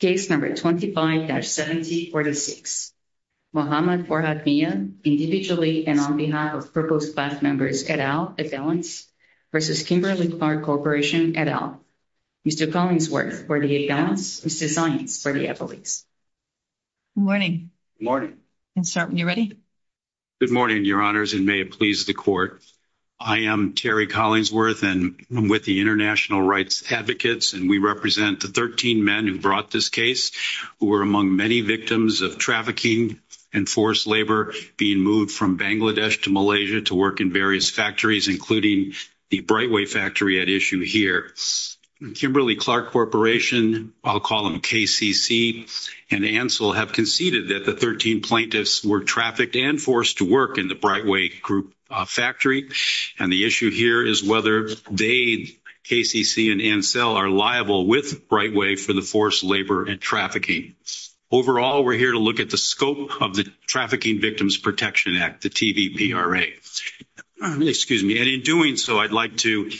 Case number 25-7046. Muhammad Farhad Mia, individually and on behalf of Purpose Bus members, et al. versus Kimberly Clark Corporation, et al. Mr. Collingsworth, Mr. Simons, et al. Good morning. Good morning. You ready? Good morning, your honors, and may it please the court. I am Terry Collingsworth, and I'm with the National Rights Advocates, and we represent the 13 men who brought this case, who were among many victims of trafficking and forced labor, being moved from Bangladesh to Malaysia to work in various factories, including the Brightway factory at issue here. Kimberly Clark Corporation, I'll call them KCC and Ansel, have conceded that the 13 plaintiffs were trafficked and forced to work in the Brightway factory, and the issue here is whether they, KCC and Ansel, are liable with Brightway for the forced labor and trafficking. Overall, we're here to look at the scope of the Trafficking Victims Protection Act, the TVPRA. In doing so, I'd like to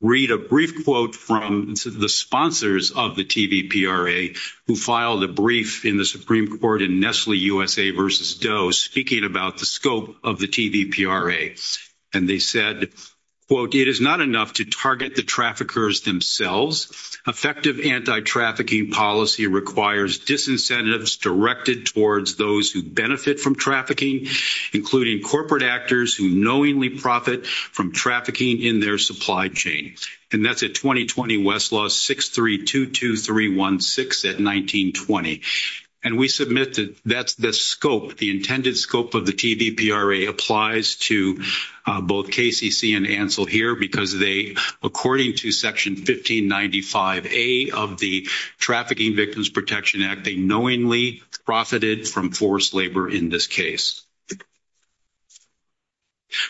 read a brief quote from the sponsors of the TVPRA, who filed a brief in the Supreme Court in Nestle USA v. Doe, speaking about the scope of the TVPRA. And they said, quote, it is not enough to target the traffickers themselves. Effective anti-trafficking policy requires disincentives directed towards those who benefit from trafficking, including corporate actors who knowingly profit from trafficking in their supply chain. And that's a 2020 Westlaw 6322316 at 19-20. And we submit that the scope, the intended scope of the TVPRA applies to both KCC and Ansel here, because they, according to Section 1595A of the Trafficking Victims Protection Act, they knowingly profited from forced labor in this case.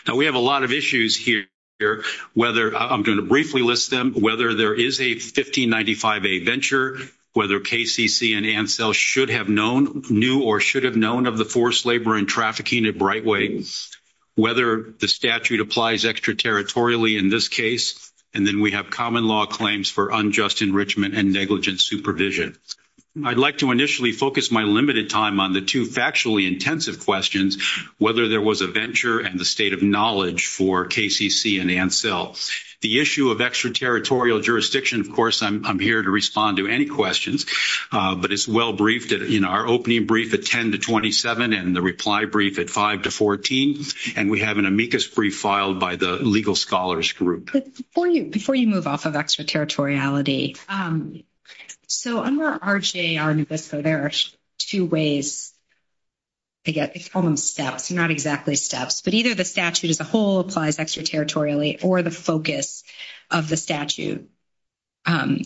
Now, we have a lot of issues here, whether I'm going to briefly list whether there is a 1595A venture, whether KCC and Ansel should have known, knew or should have known of the forced labor and trafficking at Brightway, whether the statute applies extraterritorially in this case. And then we have common law claims for unjust enrichment and negligent supervision. I'd like to initially focus my limited time on the two factually intensive questions, whether there was a venture and the state of knowledge for KCC and Ansel. The issue of extraterritorial jurisdiction, of course, I'm here to respond to any questions, but it's well-briefed in our opening brief at 10 to 27 and the reply brief at 5 to 14. And we have an amicus brief filed by the Legal Scholars Group. But before you move off of extraterritoriality, so I'm going to RJ on this, so there are two ways. I guess it's called steps, not exactly steps, but either the statute as a whole applies extraterritorially or the focus of the statute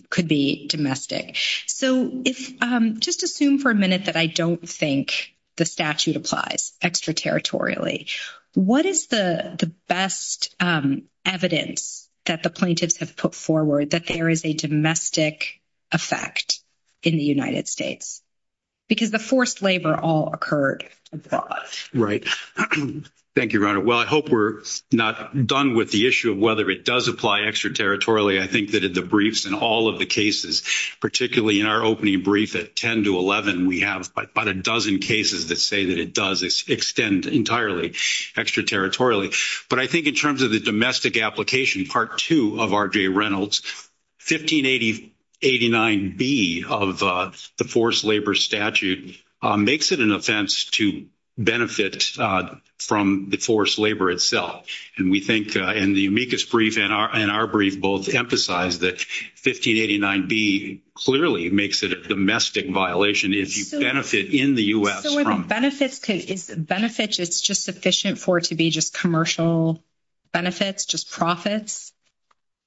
could be domestic. So just assume for a minute that I don't think the statute applies extraterritorially. What is the best evidence that the plaintiffs have put forward that there is a domestic effect in the United States? Because the forced labor all occurred abroad. Right. Thank you, Your Honor. Well, I hope we're not done with the issue of whether it does apply extraterritorially. I think that the briefs in all of the cases, particularly in our opening brief at 10 to 11, we have about a dozen cases that say that it does extend entirely extraterritorially. But I think in terms of the domestic application, part two of RJ Reynolds, 1589B of the forced labor statute makes it an offense to benefit from the forced labor itself. And we think in the amicus brief and our brief both emphasize that 1589B clearly makes it a domestic violation if you benefit in the U.S. So benefits, it's just sufficient for it to be just commercial benefits, just profits?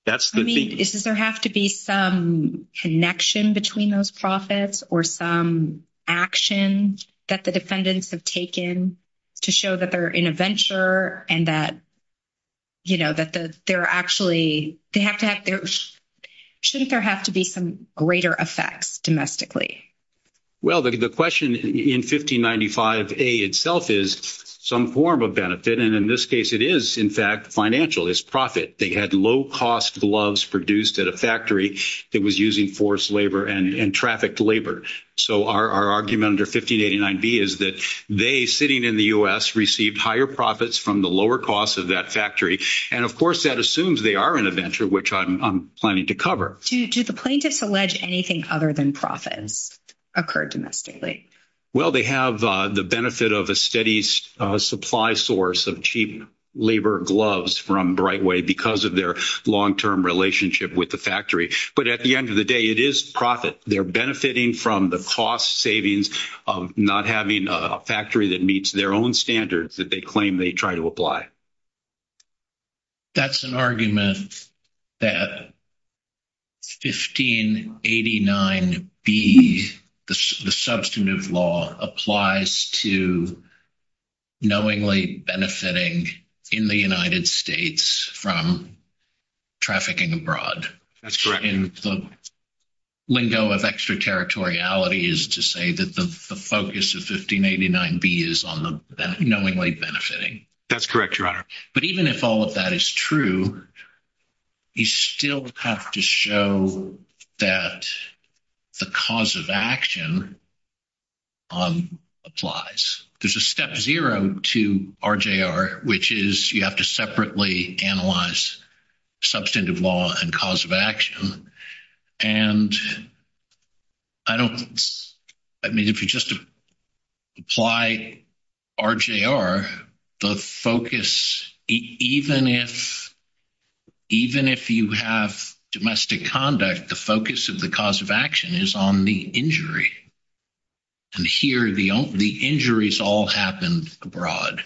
I mean, does there have to be some connection between those profits or some actions that the defendants have taken to show that they're in a venture and that, you know, that they're actually, shouldn't there have to be some greater effects domestically? Well, the question in 1595A itself is some form of benefit. And in this case, it is, in fact, financial. It's profit. They had low-cost gloves produced at a factory that was using forced labor and trafficked labor. So our argument under 1589B is that they, sitting in the U.S., received higher profits from the lower cost of that factory. And of course, that assumes they are in a venture, which I'm planning to cover. Do the plaintiffs allege anything other than profits occurred domestically? Well, they have the benefit of a steady supply source of cheap labor gloves from Brightway because of their long-term relationship with the factory. But at the end of the day, it is profit. They're benefiting from the cost savings of not having a factory that meets their own standards that they claim they try to apply. That's an argument that 1589B, the substantive law, applies to knowingly benefiting in the United States from trafficking abroad. That's right. And the lingo of extraterritoriality is to say that the focus of 1589B is on the knowingly benefiting. That's correct, Your Honor. But even if all of that is true, you still have to show that the cause of action applies. There's a step zero to RJR, which is you have to separately analyze substantive law and cause of action. And I mean, if you just apply RJR, the focus, even if you have domestic conduct, the focus of the cause of action is on the injury. And here, the injuries all happen abroad.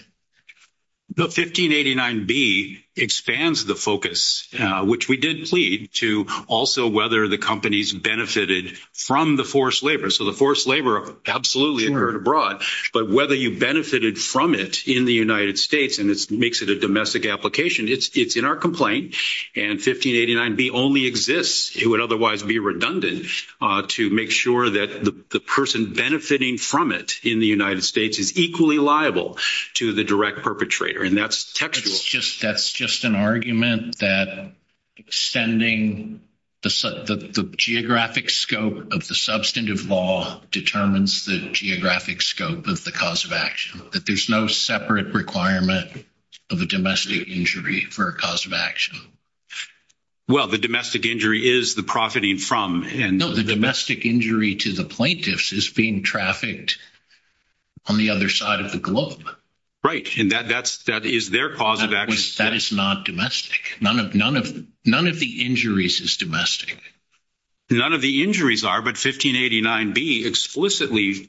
No. 1589B expands the focus, which we did plead, to also whether the companies benefited from the forced labor. So the forced labor absolutely occurred abroad. But whether you benefited from it in the United States and it makes it a domestic application, it's in our complaint. And 1589B only exists. It would otherwise be redundant to make sure that the person benefiting from it in the United States is equally liable to the direct perpetrator. And that's textual. That's just an argument that extending the geographic scope of the substantive law determines the geographic scope of the cause of action, that there's no separate requirement of a domestic injury for a cause of action. Well, the domestic injury is the profiting from and— No, the domestic injury to the plaintiffs is being trafficked on the other side of the globe. Right. And that is their cause of action. That is not domestic. None of the injuries is domestic. None of the injuries are, but 1589B explicitly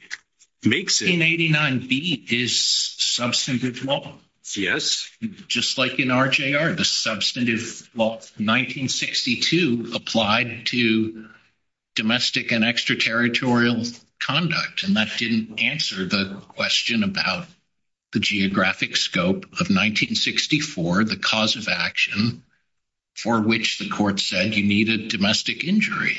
makes it— 1589B is substantive law. Yes. Just like in RJR, the substantive law of 1962 applied to domestic and extraterritorial conduct, and that didn't answer the question about the geographic scope of 1964, the cause of action for which the court said you needed domestic injury.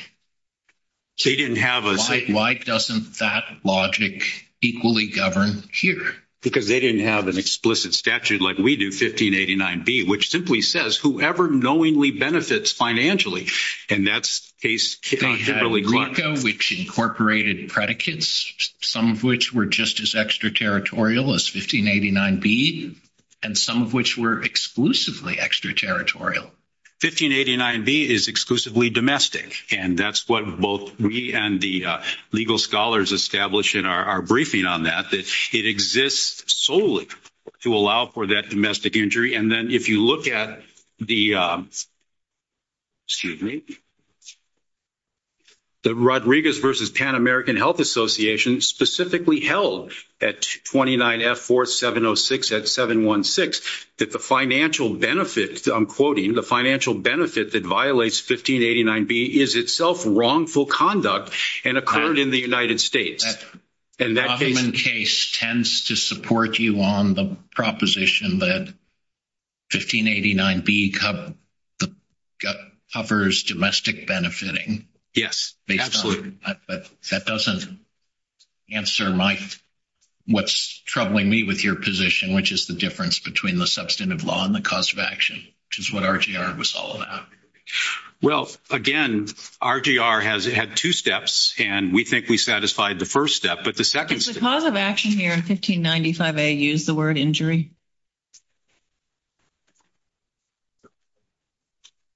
So you didn't have a— Why doesn't that logic equally govern here? Because they didn't have an explicit statute like we do, 1589B, which simply says whoever knowingly benefits financially. And that's case— They had a legal code which incorporated predicates, some of which were just as extraterritorial as 1589B, and some of which were exclusively extraterritorial. 1589B is exclusively domestic, and that's what both we and the legal scholars established in our briefing on that, that it exists solely to allow for that domestic injury. And then if you look at the— Excuse me. The Rodriguez versus Pan American Health Association specifically held at 29F4706 at 716 that the financial benefit, I'm quoting, the financial benefit that violates 1589B is itself wrongful conduct and occurred in the United States. The Huffman case tends to support you on the proposition that 1589B covers domestic benefiting. Yes, absolutely. But that doesn't answer what's troubling me with your position, which is the difference between the substantive law and the cause of action, which is what RGR was all about. Well, again, RGR had two steps, and we think we satisfied the first step. The cause of action here, 1595A, used the word injury.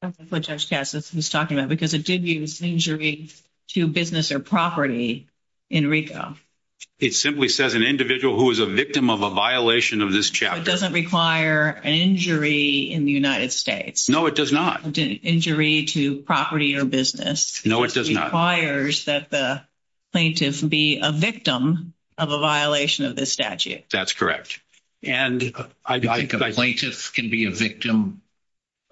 That's what Judge Cassis is talking about, because it did use injury to business or property in RICO. It simply says an individual who is a victim of a violation of this chapter. It doesn't require an injury in the United States. No, it does not. Injury to property or business. No, it does not. It requires that the plaintiff be a victim of a violation of this statute. That's correct. And I think a plaintiff can be a victim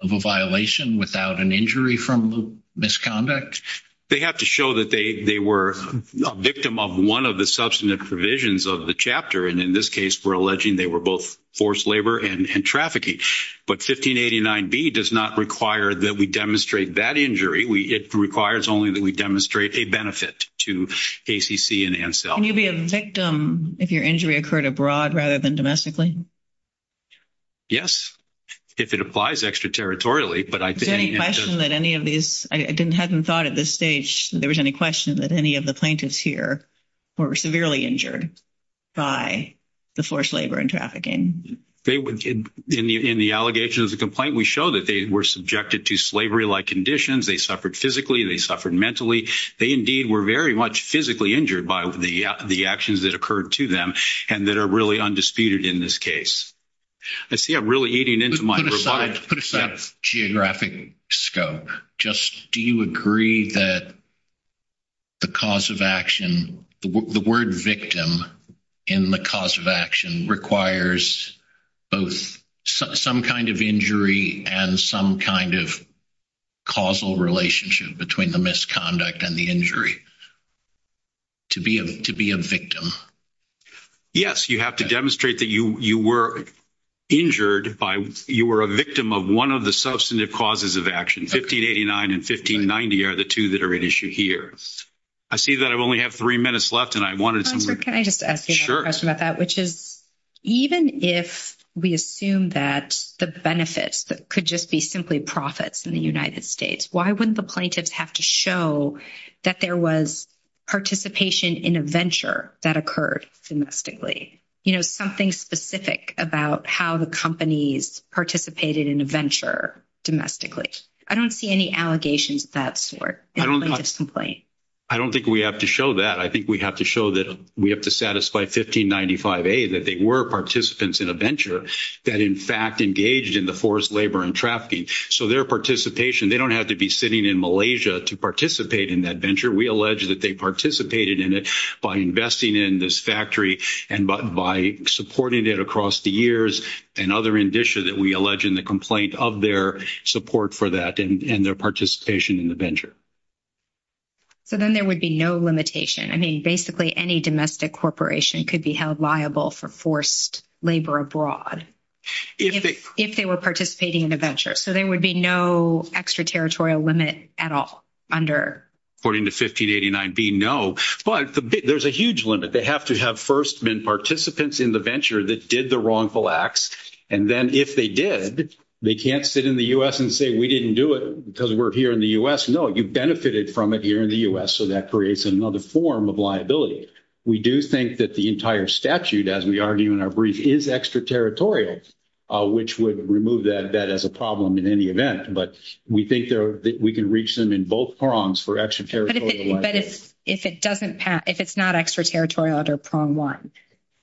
of a violation without an injury from misconduct? They have to show that they were a victim of one of the substantive provisions of the chapter. And in this case, we're alleging they were both forced labor and trafficking. But 1589B does not require that we demonstrate that injury. It requires only that we demonstrate a benefit to ACC and ANCEL. Can you be a victim if your injury occurred abroad rather than domestically? Yes, if it applies extraterritorially. But I think— Is there any question that any of these—I hadn't thought at this stage that there was any question that any of the plaintiffs here were severely injured by the forced labor and trafficking? In the allegation of the complaint, we show that they were subjected to slavery-like conditions. They suffered physically. They suffered mentally. They, indeed, were very much physically injured by the actions that occurred to them and that are really undisputed in this case. I see I'm really eating into my— Let's put aside geographic scope. Just do you agree that the cause of action—the word victim in the cause of action requires both some kind of injury and some kind of causal relationship between the misconduct and the injury to be a victim? Yes, you have to demonstrate that you were injured by— you were a victim of one of the substantive causes of action. 1589 and 1590 are the two that are at issue here. I see that I only have three minutes left, and I wanted to— Even if we assume that the benefits could just be simply profits in the United States, why wouldn't the plaintiffs have to show that there was participation in a venture that occurred domestically? You know, something specific about how the companies participated in a venture domestically. I don't see any allegations of that sort in this complaint. I don't think we have to show that. I think we have to show that we have to satisfy 1595A that they were participants in a venture that, in fact, engaged in the forced labor and trafficking. So their participation—they don't have to be sitting in Malaysia to participate in that venture. We allege that they participated in it by investing in this factory and by supporting it across the years, and other indicia that we allege in the complaint of their support for that and their participation in the venture. So then there would be no limitation. I mean, basically, any domestic corporation could be held liable for forced labor abroad if they were participating in a venture. So there would be no extraterritorial limit at all under— According to 1589B, no. But there's a huge limit. They have to have first been participants in the venture that did the wrongful acts, and then if they did, they can't sit in the U.S. and say, we didn't do it because we're here in the U.S. No, you benefited from it here in the U.S., so that creates another form of liability. We do think that the entire statute, as we argue in our brief, is extraterritorial, which would remove that as a problem in any event, but we think that we can reach them in both prongs for extraterritorial— But if it doesn't pass—if it's not extraterritorial under prong one,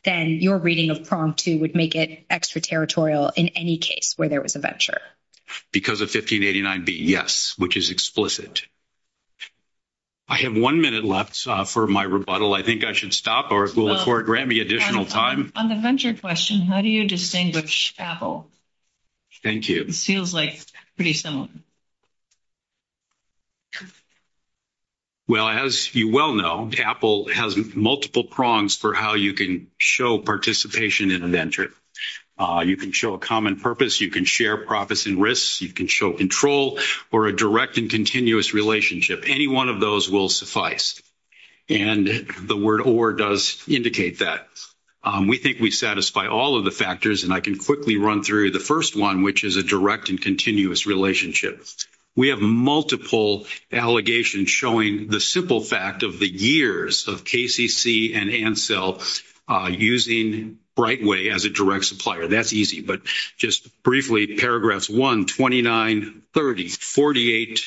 then your reading of prong two would make it extraterritorial in any case where there was a venture. Because of 1589B, yes, which is explicit. I have one minute left for my rebuttal. I think I should stop or will the court grant me additional time? On the venture question, how do you distinguish Apple? Thank you. Feels like pretty similar. Well, as you well know, Apple has multiple prongs for how you can show participation in a venture. You can show a common purpose. You can share profits and risks. You can show control or a direct and continuous relationship. Any one of those will suffice, and the word or does indicate that. We think we satisfy all of the factors, and I can quickly run through the first one, which is a direct and continuous relationship. We have multiple allegations showing the simple fact of the years of KCC and Ansel using Brightway as a direct supplier. That's easy. But just briefly, paragraphs 1, 29, 30, 48,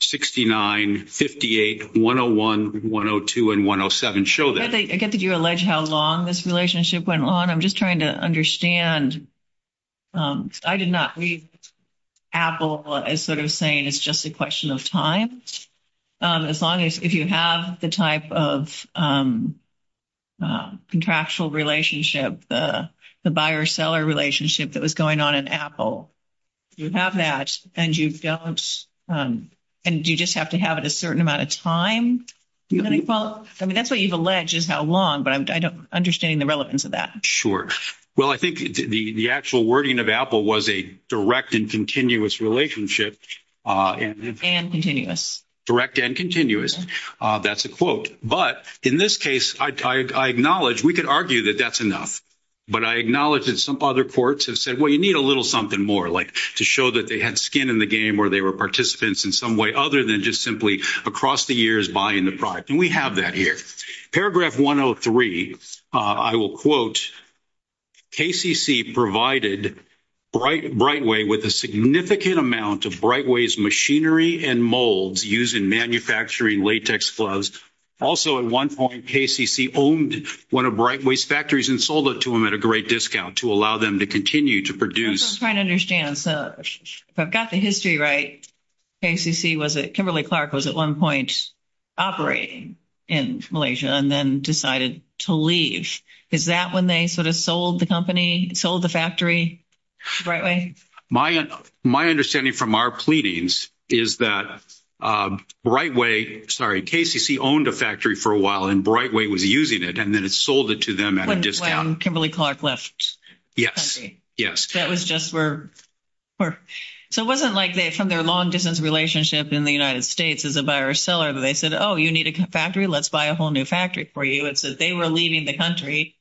69, 58, 101, 102, and 107 show that. I get that you allege how long this relationship went on. I'm just trying to understand. I did not read Apple as sort of saying it's just a question of time. As long as if you have the type of contractual relationship, the buyer-seller relationship that was going on in Apple, you have that and you just have to have it a certain amount of time. That's what you've alleged is how long, but I don't understand the relevance of that. Well, I think the actual wording of Apple was a direct and continuous relationship. And continuous. Direct and continuous. That's a quote. But in this case, I acknowledge we could argue that that's enough. But I acknowledge that some other courts have said, well, you need a little something more, like to show that they had skin in the game or they were participants in some way other than just simply across the years buying the product. And we have that here. Paragraph 103, I will quote, KCC provided Brightway with a significant amount of Brightway's machinery and molds used in manufacturing latex gloves. Also, at one point, KCC owned one of Brightway's factories and sold it to them at a great discount to allow them to continue to produce. I'm just trying to understand. If I've got the history right, KCC was at, Kimberly Clark was at one point operating in Malaysia and then decided to leave. Is that when they sort of sold the company, sold the factory to Brightway? My understanding from our pleadings is that Brightway, sorry, KCC owned a factory for a while and Brightway was using it and then it sold it to them at a discount. Kimberly Clark left. Yes, yes. That was just where, so it wasn't like that from their long distance relationship in the United States as a buyer or seller that they said, oh, you need a factory? Let's buy a whole new factory for you. It's that they were leaving the country.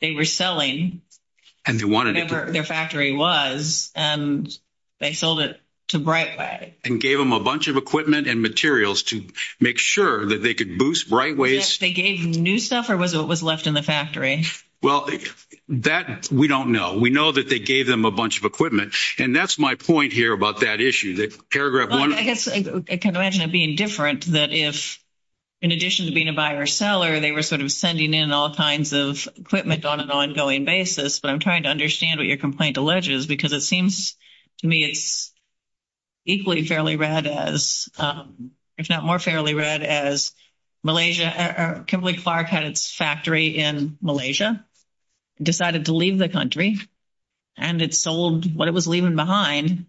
They were selling. And they wanted it. Their factory was, and they sold it to Brightway. And gave them a bunch of equipment and materials to make sure that they could boost Brightway's- They gave new stuff or was it what was left in the factory? Well, that we don't know. We know that they gave them a bunch of equipment. And that's my point here about that issue, that paragraph one- I guess I can imagine it being different that if, in addition to being a buyer or seller, they were sort of sending in all kinds of equipment on an ongoing basis. But I'm trying to understand what your complaint alleges because it seems to me it's equally fairly read as, if not more fairly read, as Kimberly Clark had its factory in Malaysia, decided to leave the country, and it sold what it was leaving behind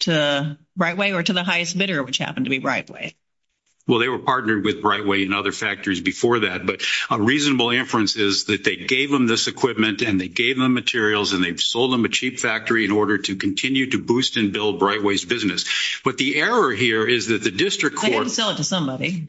to Brightway or to the highest bidder, which happened to be Brightway. Well, they were partnered with Brightway and other factories before that. But a reasonable inference is that they gave them this equipment and they gave them materials and they've sold them a cheap factory in order to continue to boost and build Brightway's business. But the error here is that the district court- They didn't sell it to somebody.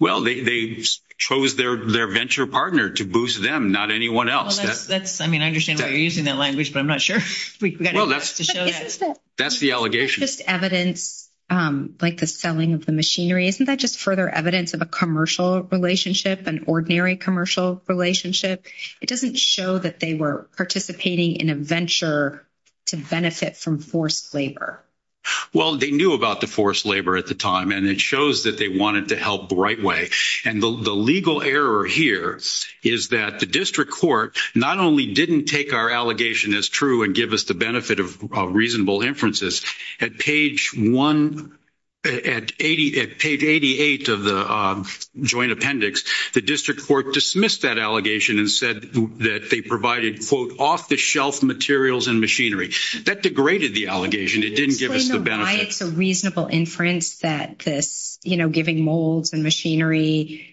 Well, they chose their venture partner to boost them, not anyone else. I mean, I understand why you're using that language, but I'm not sure. That's the allegation. Isn't this evidence, like the selling of the machinery, isn't that just further evidence of a commercial relationship, an ordinary commercial relationship? It doesn't show that they were participating in a venture to benefit from forced labor. Well, they knew about the forced labor at the time, and it shows that they wanted to help Brightway. And the legal error here is that the district court not only didn't take our allegation as true and give us the benefit of reasonable inferences. At page 1, at page 88 of the joint appendix, the district court dismissed that allegation and said that they provided, quote, off-the-shelf materials and machinery. That degraded the allegation. It didn't give us the benefit. So why is the reasonable inference that, you know, giving molds and machinery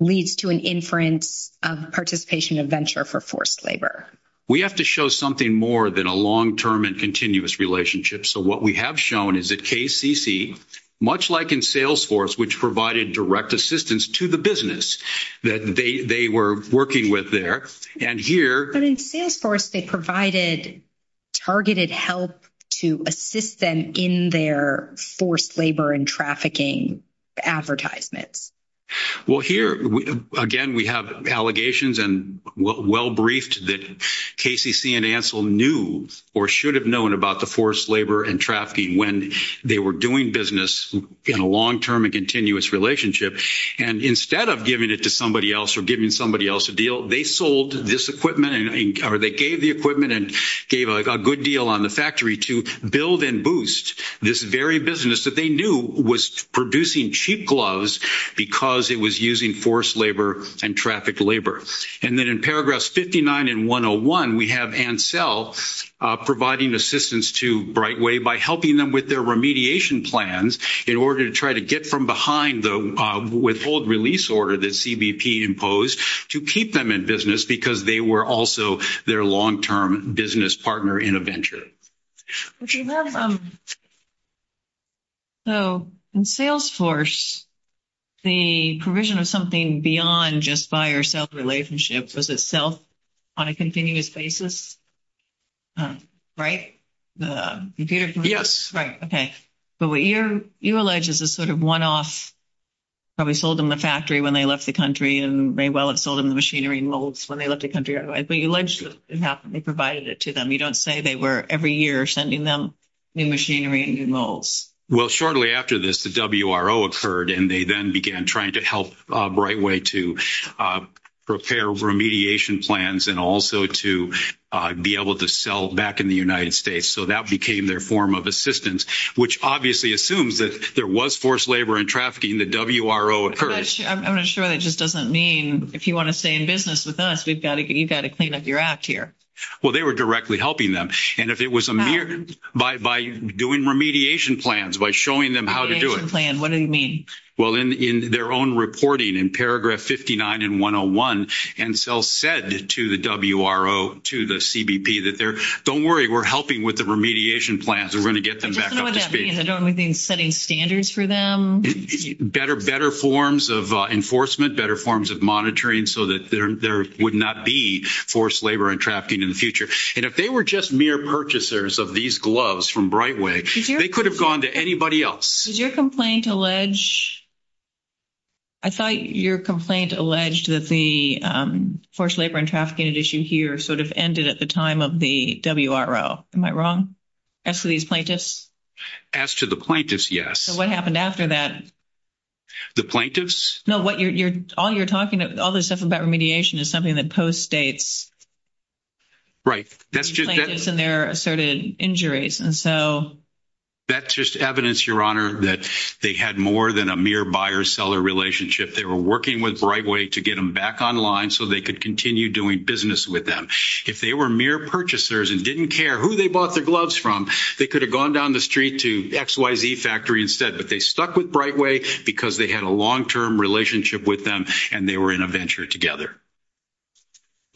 leads to an inference of participation in venture for forced labor? We have to show something more than a long-term and continuous relationship. So what we have shown is that KCC, much like in Salesforce, which provided direct assistance to the business that they were working with there, and here... But in Salesforce, they provided targeted help to assist them in their forced labor and trafficking advertisements. Well, here, again, we have allegations and well-briefed that KCC and Ansel knew or should have known about the forced labor and trafficking when they were doing business in a long-term and continuous relationship. And instead of giving it to somebody else or giving somebody else a deal, they sold this equipment or they gave the equipment and gave a good deal on the factory to build and boost this very business that they knew was producing cheap gloves because it was using forced labor and trafficked labor. And then in paragraphs 59 and 101, we have Ansel providing assistance to Brightway by helping them with their remediation plans in order to try to get from behind the withhold release order that CBP imposed to keep them in business because they were also their long-term business partner in a venture. Okay, well, so in Salesforce, the provision of something beyond just buyer-seller relationship was itself on a continuous basis, right? The computer... Yes. Right. Okay. But what you allege is a sort of one-off where we sold them the factory when they left the country, and they well have sold them the machinery and molds when they left the country otherwise. But you allege that they provided it to them. You don't say they were every year sending them new machinery and new molds. Well, shortly after this, the WRO occurred, and they then began trying to help Brightway to prepare remediation plans and also to be able to sell back in the United States. So that became their form of assistance, which obviously assumes that there was forced labor and trafficking. The WRO occurred. I'm not sure that just doesn't mean if you want to stay in business with us, you've got to clean up your act here. Well, they were directly helping them. And if it was a mere... By doing remediation plans, by showing them how to do it. Remediation plan. What do you mean? Well, in their own reporting in paragraph 59 and 101, NCEL said to the WRO, to the CBP that they're, don't worry, we're helping with the remediation plans. We're going to get them back up to speed. Doesn't that mean they're only setting standards for them? Better forms of enforcement, better forms of monitoring so that there would not be forced labor and trafficking in the future. And if they were just mere purchasers of these gloves from Brightway, they could have gone to anybody else. Did your complaint allege... I thought your complaint alleged that the forced labor and trafficking issue here sort of ended at the time of the WRO. Am I wrong? As to these plaintiffs? As to the plaintiffs, yes. So what happened after that? The plaintiffs? No, what you're, all you're talking about, all this stuff about remediation is something that co-states the plaintiffs and their asserted injuries. And so... That's just evidence, Your Honor, that they had more than a mere buyer-seller relationship. They were working with Brightway to get them back online so they could continue doing business with them. If they were mere purchasers and didn't care who they bought their gloves from, they could have gone down the street to XYZ Factory instead. But they stuck with Brightway because they had a long-term relationship with them and they were in a venture together.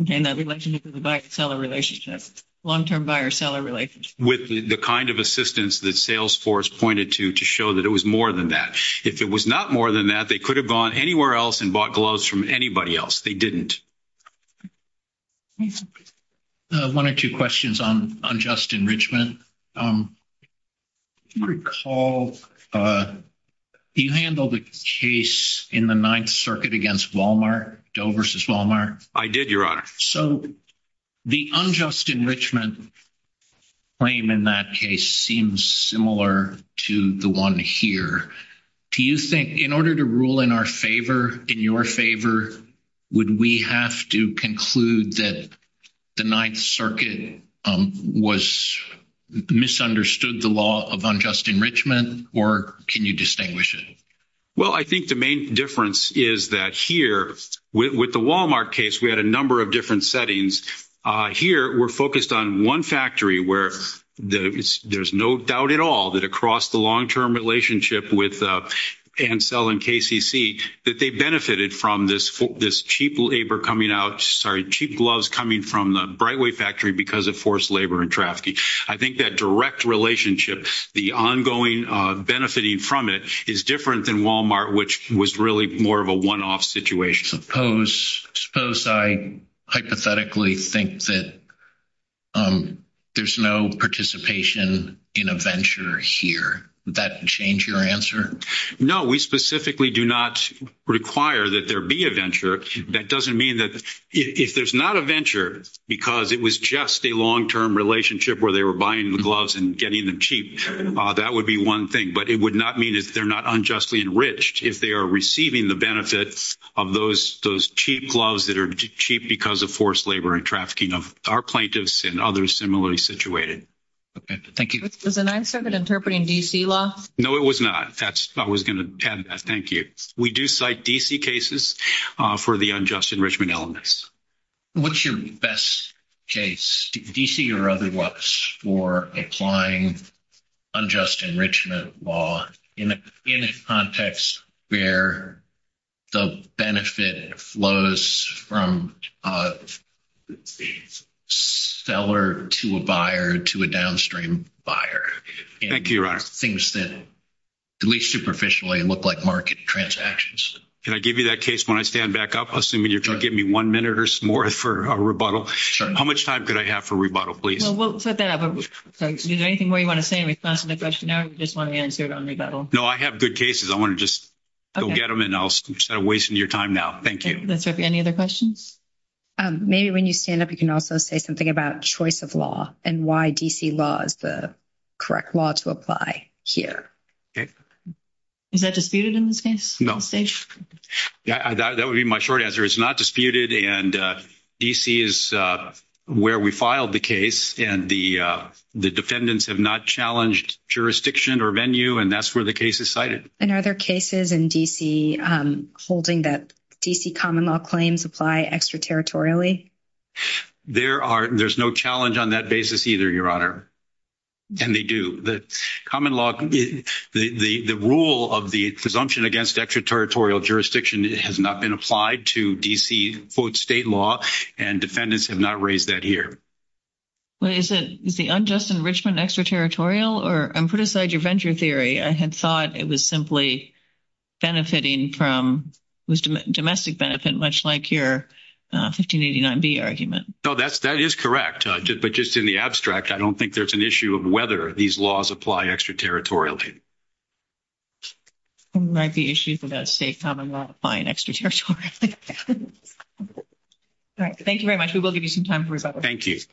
And a relationship with a buyer-seller relationship. Long-term buyer-seller relationship. With the kind of assistance that Salesforce pointed to to show that it was more than that. If it was not more than that, they could have gone anywhere else and bought gloves from anybody else. They didn't. One or two questions on Justin Richmond. Do you recall, do you handle the case in the Ninth Circuit against Walmart, Doe versus Walmart? I did, Your Honor. So the unjust enrichment claim in that case seems similar to the one here. Do you think, in order to rule in our favor, in your favor, would we have to conclude that the Ninth Circuit misunderstood the law of unjust enrichment? Or can you distinguish it? Well, I think the main difference is that here, with the Walmart case, we had a number of different settings. Here, we're focused on one factory where there's no doubt at all that across the long-term relationship with Ansel and KCC, that they benefited from this cheap labor coming out, sorry, cheap gloves coming from the Brightway factory because of forced labor and trafficking. I think that direct relationship, the ongoing benefiting from it is different than Walmart, which was really more of a one-off situation. Suppose I hypothetically think that there's no participation in a venture here. Would that change your answer? No, we specifically do not require that there be a venture. That doesn't mean that if there's not a venture because it was just a long-term relationship where they were buying the gloves and getting them cheap, that would be one thing. But it would not mean that they're not unjustly enriched if they are receiving the benefit of those cheap gloves that are cheap because of forced labor and trafficking of our plaintiffs and others similarly situated. Okay. Thank you. Was the Ninth Circuit interpreting D.C. law? No, it was not. I was going to add that. Thank you. We do cite D.C. cases for the unjust enrichment elements. What's your best case? D.C. or otherwise for applying unjust enrichment law in a context where the benefit flows from a seller to a buyer to a downstream buyer. Thank you, Ron. Things that, at least superficially, look like market transactions. Can I give you that case? When I stand back up, assuming you're going to give me one minute or more for a rebuttal. How much time could I have for a rebuttal, please? Well, for that, is there anything more you want to say in response to the question? I just want to answer it on rebuttal. No, I have good cases. I want to just go get them and I'll stop wasting your time now. Thank you. That's okay. Any other questions? Maybe when you stand up, you can also say something about choice of law and why D.C. law is the correct law to apply here. Is that disputed in this case? No. That would be my short answer. It's not disputed and D.C. is where we filed the case and the defendants have not challenged jurisdiction or venue and that's where the case is cited. And are there cases in D.C. holding that D.C. common law claims apply extraterritorially? There are. There's no challenge on that basis either, Your Honor. And they do. The common law, the rule of the presumption against extraterritorial jurisdiction has not been applied to D.C. state law and defendants have not raised that here. Well, is the unjust enrichment extraterritorial? Or put aside your venture theory, I had thought it was simply benefiting from domestic benefit, much like your 1589B argument. No, that is correct. But just in the abstract, I don't think there's an issue of whether these laws apply extraterritorially. Thank you very much. We will give you some time for rebuttals.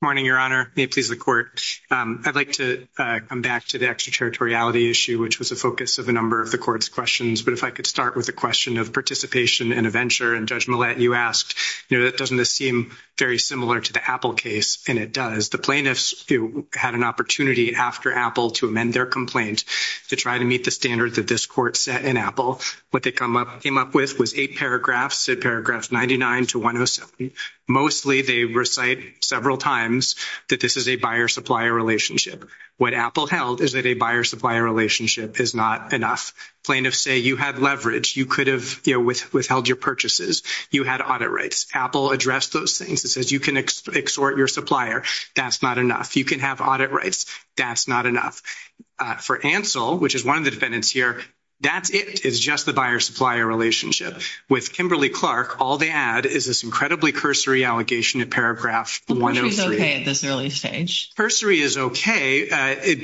Good morning, Your Honor. May it please the Court. I'd like to come back to the extraterritoriality issue, which was the focus of a number of the Court's questions. But if I could start with a question of participation and a venture. And Judge Millett, you asked, you know, that doesn't seem very similar to the Apple case. And it does. The plaintiffs had an opportunity after Apple to amend their complaint to try to meet the standards that this Court set in Apple. What they came up with was eight paragraphs, paragraphs 99 to 107. Mostly, they recite several times that this is a buyer-supplier relationship. What Apple held is that a buyer-supplier relationship is not enough. Plaintiffs say you have leverage. You could have, you know, withheld your purchases. You had audit rights. Apple addressed those things. It says you can exhort your supplier. That's not enough. You can have audit rights. That's not enough. For Ansell, which is one of the defendants here, that's it. It's just the buyer-supplier relationship. With Kimberly-Clark, all they add is this incredibly cursory allegation in paragraph 103. Which is okay at this early stage. Cursory is okay,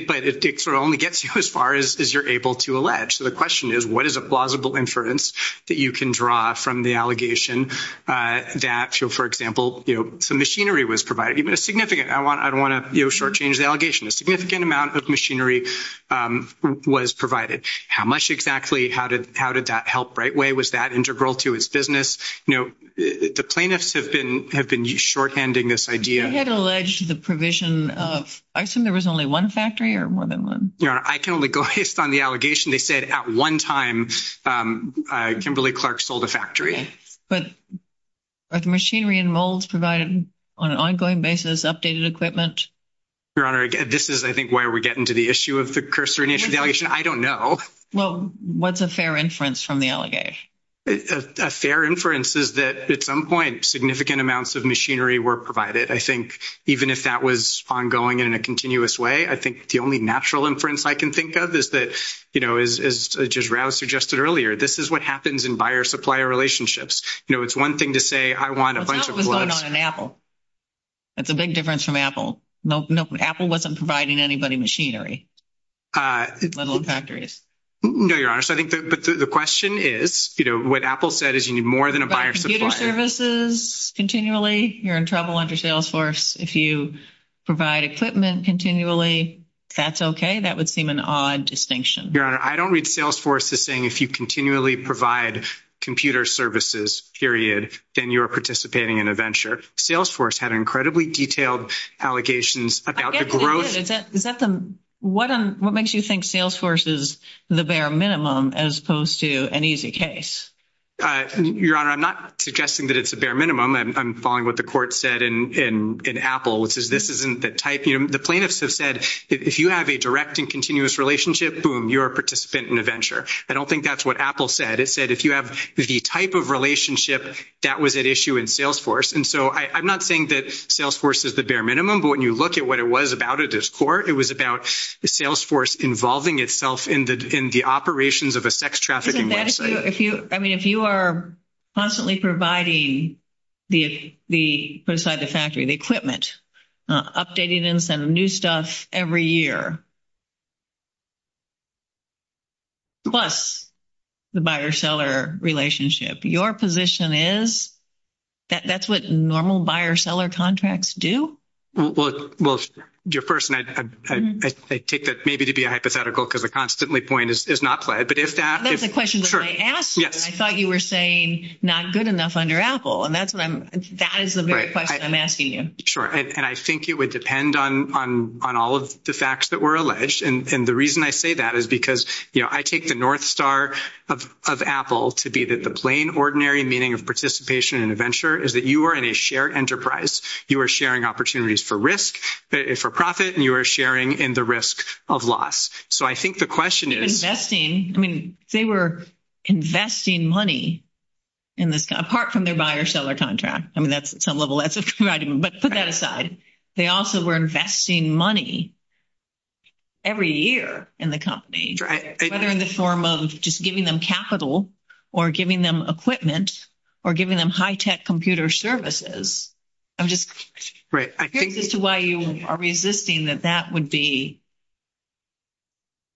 but it sort of only gets you as far as you're able to allege. So the question is, what is a plausible inference that you can draw from the allegation that, for example, you know, some machinery was provided? Even a significant, I don't want to, you know, shortchange the allegation, a significant amount of machinery was provided. How much exactly? How did that help right away? Was that integral to his business? You know, the plaintiffs have been shorthanding this idea. You had alleged the provision of, I assume there was only one factory or more than one? Your Honor, I can only go based on the allegation. They said at one time, Kimberly-Clark sold a factory. But are the machinery and molds provided on an ongoing basis? Updated equipment? Your Honor, this is, I think, where we get into the issue of the cursory allegation. I don't know. Well, what's a fair inference from the allegation? A fair inference is that, at some point, significant amounts of machinery were provided. I think even if that was ongoing in a continuous way, I think the only natural inference I can think of is that, you know, as Judge Rouse suggested earlier, this is what happens in buyer-supplier relationships. You know, it's one thing to say, I want a bunch of... But that was done on an Apple. That's a big difference from Apple. No, Apple wasn't providing anybody machinery. Little factories. No, Your Honor. The question is, you know, what Apple said is you need more than a buyer-supplier. But computer services, continually, you're in trouble under Salesforce. If you provide equipment continually, if that's okay, that would seem an odd distinction. Your Honor, I don't read Salesforce as saying if you continually provide computer services, period, then you're participating in a venture. Salesforce had incredibly detailed allegations about the growth... Is that the... What makes you think Salesforce is the bare minimum as opposed to an easy case? Your Honor, I'm not suggesting that it's the bare minimum. I'm following what the court said in Apple, which is this isn't the type... The plaintiffs have said, if you have a direct and continuous relationship, boom, you're a participant in a venture. I don't think that's what Apple said. It said, if you have the type of relationship, that was at issue in Salesforce. And so I'm not saying that Salesforce is the bare minimum. But when you look at what it was about at this court, it was about the Salesforce involving itself in the operations of a sex trafficking website. Isn't that if you... I mean, if you are constantly providing the... Beside the factory, the equipment, updating in some new stuff every year, plus the buyer-seller relationship, your position is that that's what normal buyer-seller contracts do? Well, your first... And I take that maybe to be a hypothetical because the constantly point is not... But if that... That's the question that I asked you. I thought you were saying not good enough under Apple. And that is the very question I'm asking you. Sure. And I think it would depend on all of the facts that were alleged. And the reason I say that is because I take the North Star of Apple to be that the plain ordinary meaning of participation in a venture is that you are in a shared enterprise. You are sharing opportunities for risk, for profit, and you are sharing in the risk of loss. So I think the question is... Investing. I mean, they were investing money in this... Apart from their buyer-seller contract. I mean, that's at some level... But put that aside. They also were investing money every year in the company, whether in the form of just giving them capital, or giving them equipment, or giving them high-tech computer services. I'm just... Right. I think... This is why you are resisting that that would be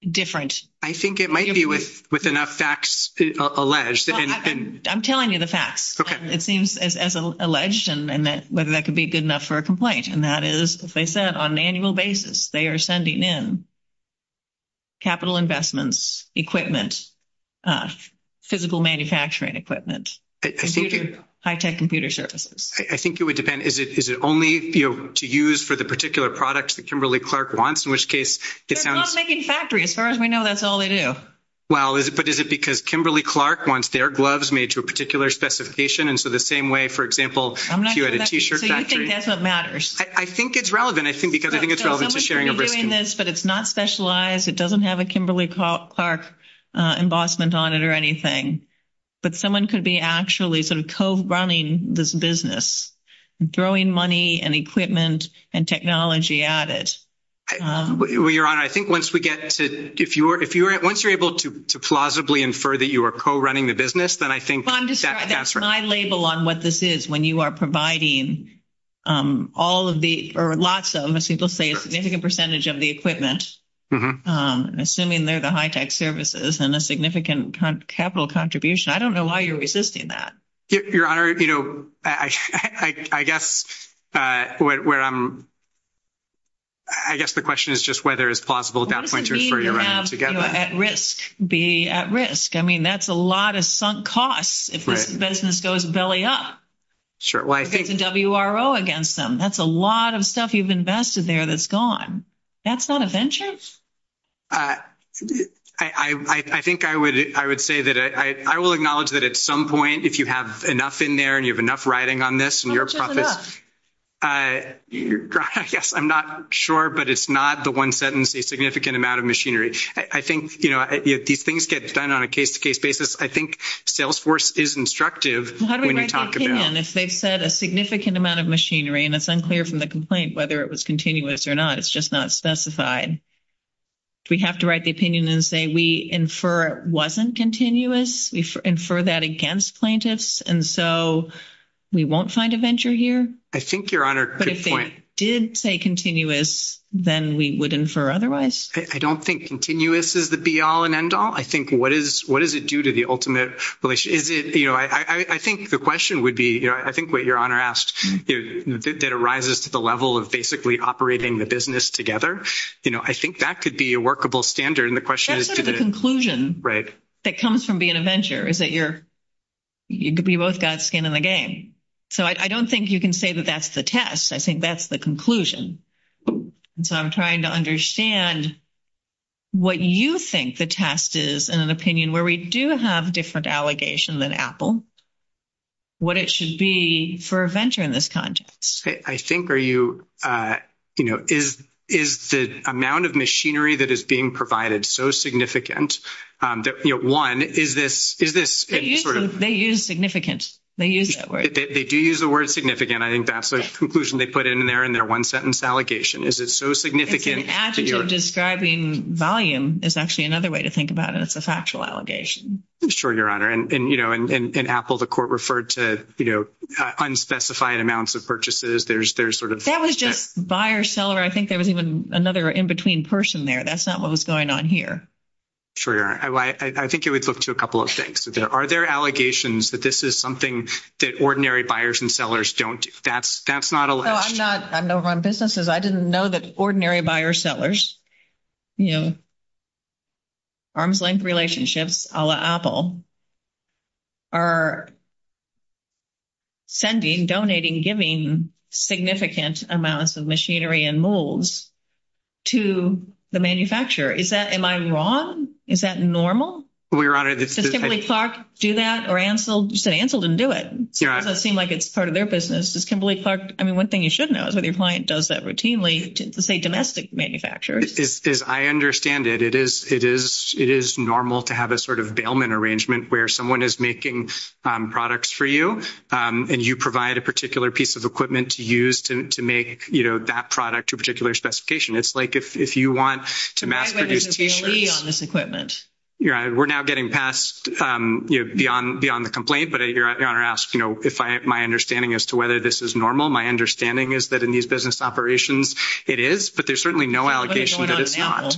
different. I think it might be with enough facts alleged. I'm telling you the facts. Okay. It seems as alleged and whether that could be good enough for a complaint. And that is, as I said, on an annual basis, they are sending in capital investments, equipment, physical manufacturing equipment, high-tech computer services. I think it would depend. Is it only to use for the particular product that Kimberly Clark wants, in which case... They're not making factories. As far as we know, that's all they do. Well, but is it because Kimberly Clark wants their gloves made to a particular specification? And so the same way, for example, if you had a t-shirt factory... So you think that's what matters. I think it's relevant. I think because I think it's relevant for sharing... But it's not specialized. It doesn't have a Kimberly Clark embossment on it or anything. But someone could be actually sort of co-running this business, throwing money and equipment and technology at it. Your Honor, I think once we get to... If you are... Once you're able to plausibly infer that you are co-running the business, then I think... Well, that's my label on what this is. When you are providing all of the... Or lots of, as people say, a significant percentage of the equipment. Assuming they're the high-tech services and a significant capital contribution, I don't know why you're resisting that. Your Honor, I guess the question is just whether it's plausible at that point... What does it mean to be at risk? I mean, that's a lot of sunk costs if the business goes belly up. Well, I think... There's a WRO against them. That's a lot of stuff you've invested there that's gone. That's not a vengeance? I think I would say that I will acknowledge that at some point, if you have enough in there and you have enough riding on this and you're a profit... Yes, I'm not sure, but it's not the one sentence, a significant amount of machinery. I think these things get done on a case-to-case basis. I think Salesforce is instructive when you talk about... They've said a significant amount of machinery, and it's unclear from the complaint whether it was continuous or not. It's just not specified. Do we have to write the opinion and say we infer it wasn't continuous? We infer that against plaintiffs, and so we won't find a venture here? I think, Your Honor... But if they did say continuous, then we would infer otherwise? I don't think continuous is the be-all and end-all. I think what does it do to the ultimate... You know, I think the question would be... I think what Your Honor asked, that it rises to the level of basically operating the business together. You know, I think that could be a workable standard, and the question is... I think the conclusion that comes from being a venture is that you're... We both got skin in the game. So I don't think you can say that that's the test. I think that's the conclusion. So I'm trying to understand what you think the test is in an opinion where we do have a different allegation than Apple, what it should be for a venture in this context. I think, are you... You know, is the amount of machinery that is being provided so significant that, you know, one, is this true? They use significant. They use that word. They do use the word significant. I think that's the conclusion they put in there in their one-sentence allegation. Is it so significant that you're... Describing volume is actually another way to think about it as a factual allegation. Sure, Your Honor, and, you know, in Apple, the court referred to, you know, unspecified amounts of purchases. There's sort of... That was just buyer-seller. I think there was even another in-between person there. That's not what was going on here. Sure, Your Honor. I think it would look to a couple of things. Are there allegations that this is something that ordinary buyers and sellers don't do? That's not alleged. I'm not one of those businesses. I didn't know that ordinary buyer-sellers, you know, arms-length relationships a la Apple, are sending, donating, giving significant amounts of machinery and molds to the manufacturer. Is that... Am I wrong? Is that normal? Well, Your Honor, it's just... Does Kimberly-Clark do that? Or Ansel? You said Ansel didn't do it. It doesn't seem like it's part of their business. Kimberly-Clark... I mean, one thing you should know is that your client does that routinely to, say, domestic manufacturers. As I understand it, it is normal to have a sort of bailment arrangement where someone is making products for you, and you provide a particular piece of equipment to use to make, you know, that product to a particular specification. It's like if you want to... Why is there a VA on this equipment? Your Honor, we're now getting past, you know, beyond the complaint. But Your Honor asked, you know, if my understanding as to whether this is normal. My understanding is that in these business operations, it is, but there's certainly no allegation that it's not.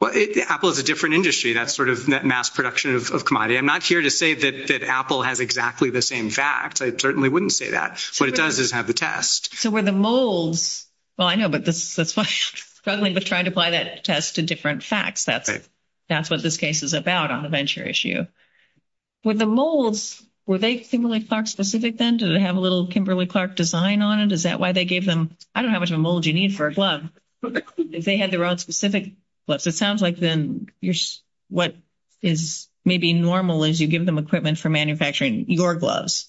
Well, Apple is a different industry. That's sort of mass production of commodity. I'm not here to say that Apple has exactly the same fact. I certainly wouldn't say that. What it does is have the test. So were the molds... Well, I know, but that's why I'm struggling with trying to apply that test to different facts. That's what this case is about on the venture issue. With the molds, were they Kimberly-Clark specific then? Did they have a little Kimberly-Clark design on it? Is that why they gave them... I don't know how much of a mold you need for a glove. If they had their own specific gloves. It sounds like then what is maybe normal is you give them equipment for manufacturing your gloves,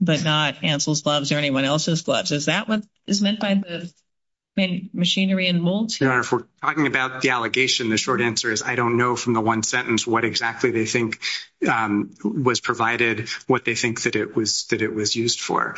but not Hansel's gloves or anyone else's gloves. Is that what is meant by the machinery and molds? Your Honor, if we're talking about the allegation, the short answer is I don't know from the was provided what they think that it was used for.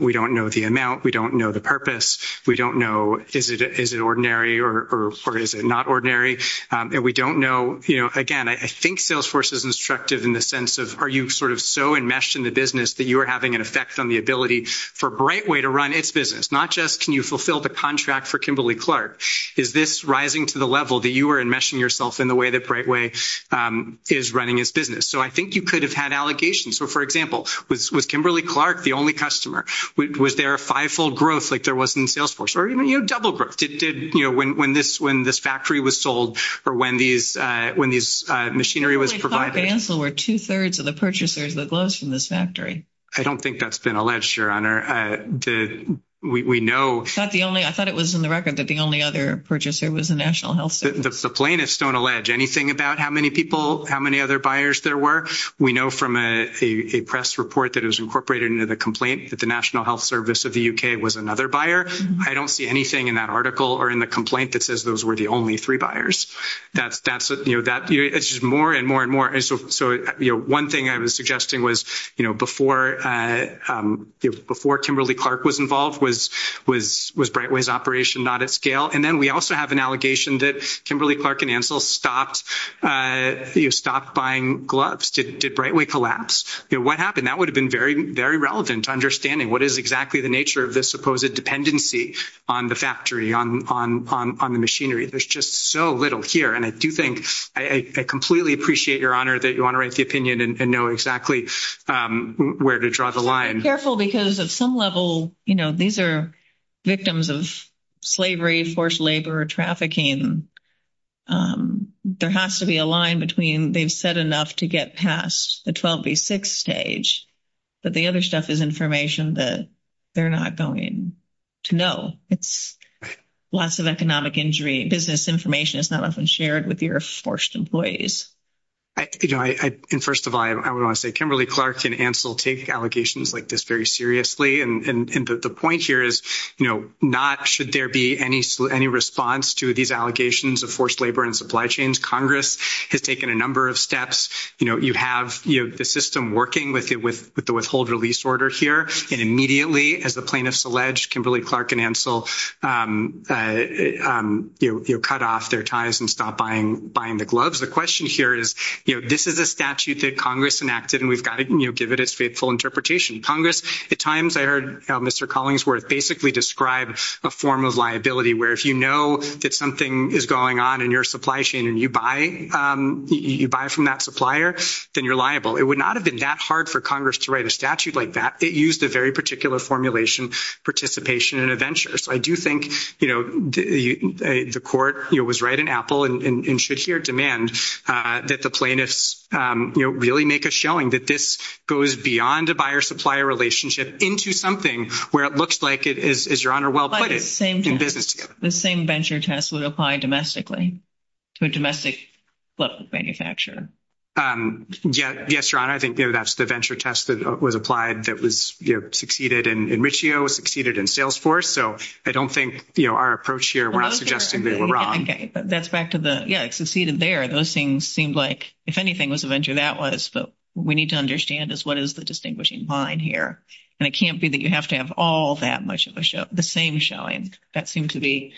We don't know the amount. We don't know the purpose. We don't know is it ordinary or is it not ordinary? And we don't know, again, I think Salesforce is instructive in the sense of are you sort of so enmeshed in the business that you are having an effect on the ability for Brightway to run its business? Not just can you fulfill the contract for Kimberly-Clark. Is this rising to the level that you are enmeshing yourself in the way that Brightway is running its business? So I think you could have had allegations. So, for example, with Kimberly-Clark, the only customer, was there a fivefold growth like there was in Salesforce or even, you know, double growth it did when this when this factory was sold or when these when these machinery was provided. We thought Hansel were two-thirds of the purchasers of the gloves from this factory. I don't think that's been alleged, Your Honor. We know. I thought it was in the record that the only other purchaser was the National Health Service. The plaintiffs don't allege anything about how many people, how many other buyers there were. We know from a press report that is incorporated into the complaint that the National Health Service of the U.K. was another buyer. I don't see anything in that article or in the complaint that says those were the only three buyers. It's just more and more and more. So one thing I was suggesting was, you know, before Kimberly-Clark was involved was Brightway's operation not at scale. And then we also have an allegation that Kimberly-Clark and Hansel stopped buying gloves. Did Brightway collapse? What happened? That would have been very, very relevant to understanding what is exactly the nature of this supposed dependency on the factory, on the machinery. There's just so little here. And I do think I completely appreciate, Your Honor, that you want to write the opinion and know exactly where to draw the line. Careful, because at some level, you know, these are victims of slavery, forced labor, trafficking. There has to be a line between they've said enough to get past the 12B6 stage, but the other stuff is information that they're not going to know. It's lots of economic injury. Business information is not often shared with your forced employees. You know, and first of all, I would want to say Kimberly-Clark and Hansel take allegations like this very seriously. And the point here is, you know, not should there be any response to these allegations of forced labor and supply chains. Congress has taken a number of steps. You know, you have the system working with the withhold release order here. And immediately, as the plaintiffs alleged, Kimberly-Clark and Hansel, you know, cut off their ties and stopped buying the gloves. The question here is, you know, this is a statute that Congress enacted, and we've got to, you know, give it its faithful interpretation. Congress, at times, I heard Mr. Collingsworth basically describe a form of liability, where if you know that something is going on in your supply chain and you buy from that supplier, then you're liable. It would not have been that hard for Congress to write a statute like that. It used a very particular formulation, participation and adventures. I do think, you know, the court, you know, was right in Apple and in sheer demand that the plaintiffs, you know, really make a showing that this goes beyond the buyer-supplier relationship into something where it looks like it is, Your Honor, well put in business. But the same venture test would apply domestically to a domestic-level manufacturer. Yes, Your Honor. I think, you know, that's the venture test that was applied that was, you know, succeeded in Richio, succeeded in Salesforce. So I don't think, you know, our approach here was suggesting that we were wrong. Okay, but that's back to the, yeah, it succeeded there. Those things seemed like, if anything, it was a venture that was. But what we need to understand is what is the distinguishing line here? And it can't be that you have to have all that much of the same showing. That seemed to be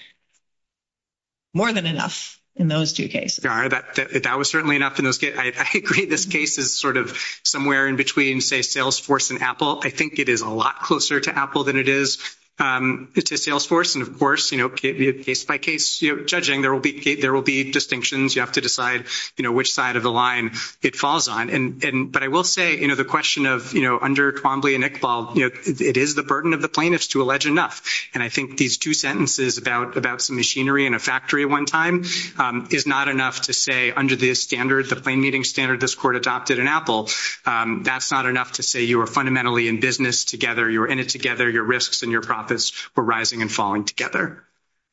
more than enough in those two cases. Your Honor, that was certainly enough in those cases. I agree this case is sort of somewhere in between, say, Salesforce and Apple. I think it is a lot closer to Apple than it is. It's a Salesforce. And of course, you know, case by case, you know, judging there will be, there will be distinctions. You have to decide, you know, which side of the line it falls on. And, but I will say, you know, the question of, you know, under Twombly and Iqbal, you know, it is the burden of the plaintiffs to allege enough. And I think these two sentences about some machinery in a factory one time is not enough to say under the standards, the plain meeting standard, this court adopted in Apple, that's not enough to say you were fundamentally in business together, you were in it together, your risks and your profits were rising and falling together.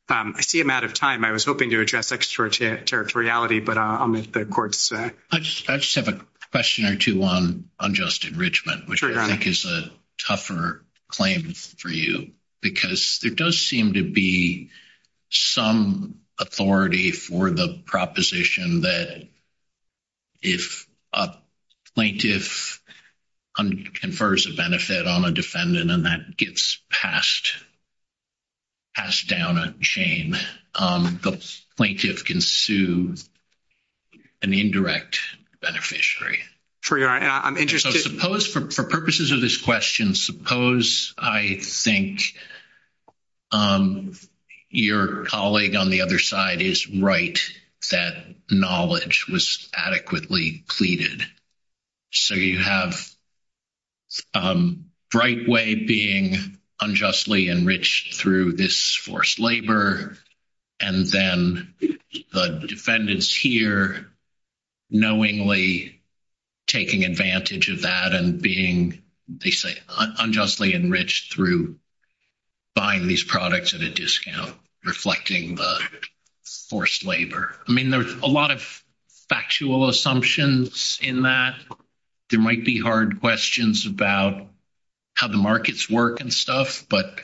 I see I'm out of time. I was hoping to address extraterritoriality, but I'll let the court say. I just have a question or two on unjust enrichment, which I think is a tougher claim for you, because there does seem to be some authority for the proposition that if a plaintiff under confers a benefit on a defendant and that gets passed, passed down a chain, the plaintiff can sue an indirect beneficiary. For your, I'm interested. So suppose for purposes of this question, suppose I think your colleague on the other side is right, that knowledge was adequately pleaded. So you have Brightway being unjustly enriched through this forced labor, and then the defendants here knowingly taking advantage of that and being, they say, unjustly enriched through buying these products at a discount, reflecting the forced labor. I mean, there's a lot of factual assumptions in that. There might be hard questions about how the markets work and stuff, but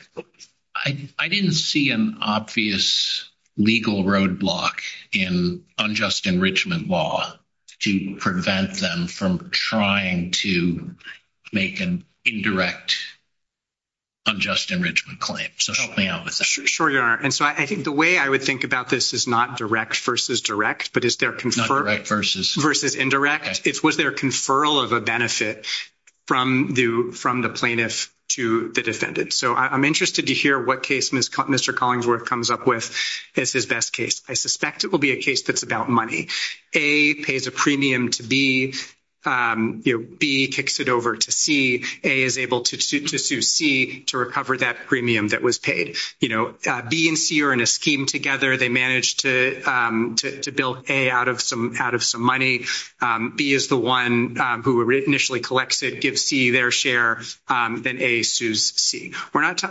I didn't see an obvious legal roadblock in unjust enrichment law to prevent them from trying to make an indirect unjust enrichment claim. So help me out with that. Sure you are. And so I think the way I would think about this is not direct versus direct, but it's their confer versus indirect. It's with their conferral of a benefit from the plaintiff to the defendant. So I'm interested to hear what case Mr. Collingsworth comes up with as his best case. I suspect it will be a case that's about money. A pays a premium to B, B kicks it over to C, A is able to sue C to recover that premium that was paid. You know, B and C are in a scheme together. They managed to build A out of some money. B is the one who initially collects it, gives C their share, then A sues C.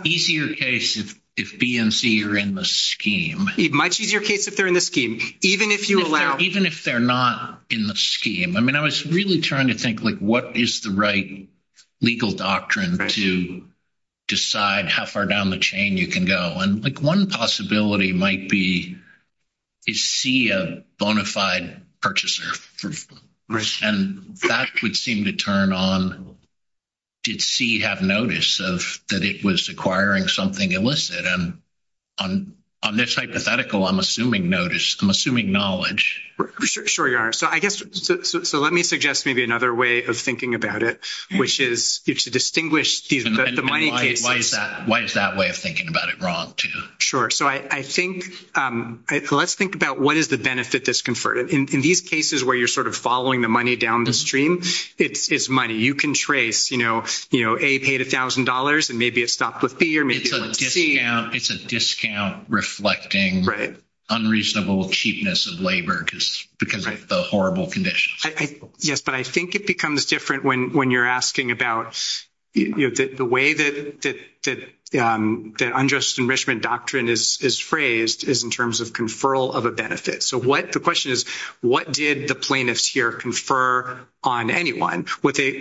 Easier case if B and C are in the scheme. Much easier case if they're in the scheme, even if you allow- Even if they're not in the scheme. I mean, I was really trying to think, like, what is the right legal doctrine to decide how far down the chain you can go? And, like, one possibility might be, is C a bona fide purchaser? And that would seem to turn on, did C have notice that it was acquiring something illicit? And on this hypothetical, I'm assuming notice. I'm assuming knowledge. Sure, Your Honor. So let me suggest maybe another way of thinking about it, which is if you distinguish these money cases- Why is that way of thinking about it wrong, too? Sure. So I think, let's think about what is the benefit disconferred? In these cases where you're sort of following the money downstream, it's money. You can trace, you know, A paid $1,000 and maybe it stopped with B or maybe it stopped with C. It's a discount reflecting unreasonable cheapness of labor because of the horrible conditions. Yes, but I think it becomes different when you're asking about, you know, the way that unjust enrichment doctrine is phrased is in terms of conferral of a benefit. So the question is, what did the plaintiffs here confer on anyone? What they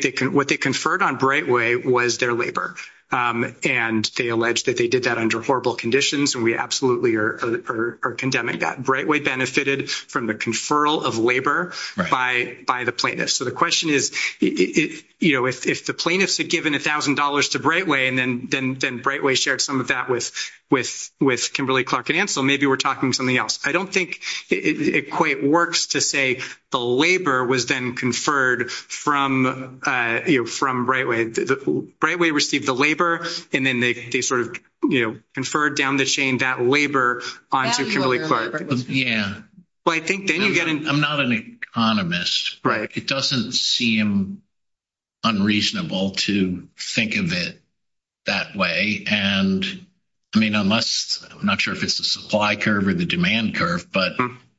conferred on Brightway was their labor. And they alleged that they did that under horrible conditions, and we absolutely are condemning that. Brightway benefited from the conferral of labor by the plaintiffs. So the question is, you know, if the plaintiffs had given $1,000 to Brightway, then Brightway shared some of that with Kimberly-Clark and Ansell, maybe we're talking something else. I don't think it quite works to say the labor was then conferred from Brightway. Brightway received the labor, and then they sort of, you know, conferred down the chain that labor onto Kimberly-Clark. Yeah, I'm not an economist. It doesn't seem unreasonable to think of it that way. And I mean, I'm not sure if it's the supply curve or the demand curve, but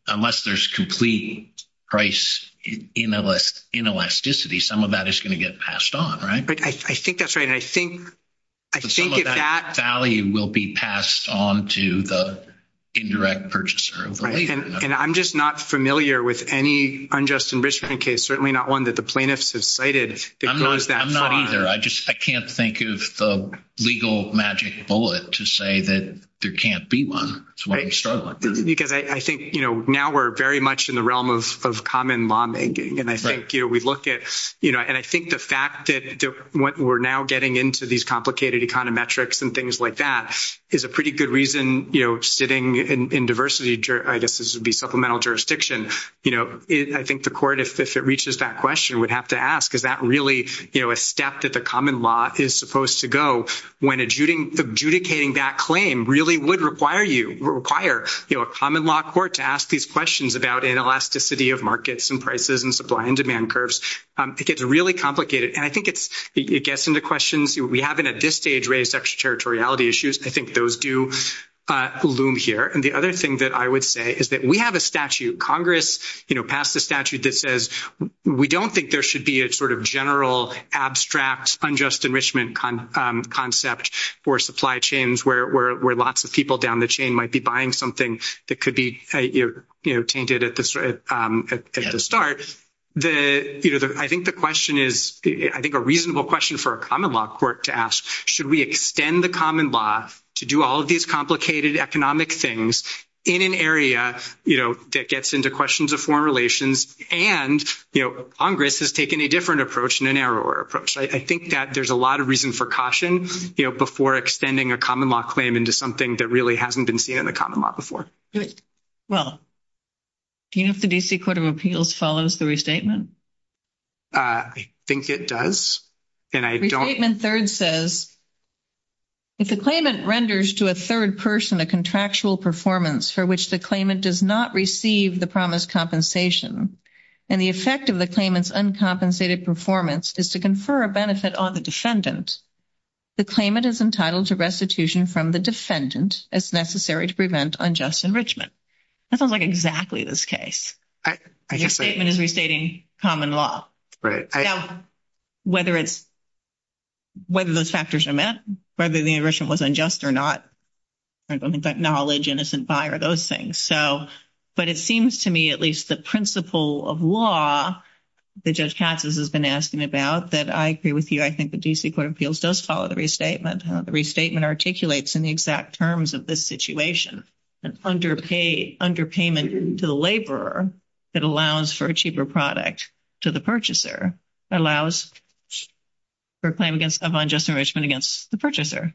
unless there's complete price inelasticity, some of that is going to get passed on, right? But I think that's right. But some of that value will be passed on to the indirect purchaser. And I'm just not familiar with any unjust enrichment case, certainly not one that the plaintiffs have cited that goes that far. I'm not either. I just can't think of the legal magic bullet to say that there can't be one. Because I think, you know, now we're very much in the realm of common lawmaking. And I think, you know, we look at, you know, I think the fact that what we're now getting into these complicated econometrics and things like that is a pretty good reason, you know, sitting in diversity. I guess this would be supplemental jurisdiction. You know, I think the court, if it reaches that question, would have to ask, is that really, you know, a step that the common law is supposed to go when adjudicating that claim really would require, you know, a common law court to ask these questions about inelasticity of markets and prices and supply and demand curves. It gets really complicated. And I think it gets into questions. We haven't at this stage raised extraterritoriality issues. I think those do loom here. And the other thing that I would say is that we have a statute. Congress, you know, passed a statute that says, we don't think there should be a sort of general abstract unjust enrichment concept for supply chains where lots of people down the chain might be buying something that could be, you know, tainted at the start. The, you know, I think the question is, I think a reasonable question for a common law court to ask, should we extend the common law to do all of these complicated economic things in an area, you know, that gets into questions of foreign relations? And, you know, Congress has taken a different approach and a narrower approach. I think that there's a lot of reason for caution, you know, before extending a common law claim into something that really hasn't been seen in the common law before. Well, do you think the D.C. Court of Appeals follows the restatement? I think it does. Restatement third says, if the claimant renders to a third person a contractual performance for which the claimant does not receive the promised compensation and the effect of the claimant's uncompensated performance is to confer a benefit on the defendant, the claimant is entitled to restitution from the defendant as necessary to prevent unjust enrichment. That sounds like exactly this case. Your statement is restating common law. Right. Now, whether it's, whether those factors are met, whether the enrichment was unjust or not, knowledge, innocent buyer, those things. So, but it seems to me at least the principle of law that Judge Casas has been asking about that I agree with you, I think the D.C. Court of Appeals does follow the restatement. The restatement articulates in the exact terms of this situation an underpayment to the laborer that allows for a cheaper product to the purchaser, allows for a claim against unjust enrichment against the purchaser.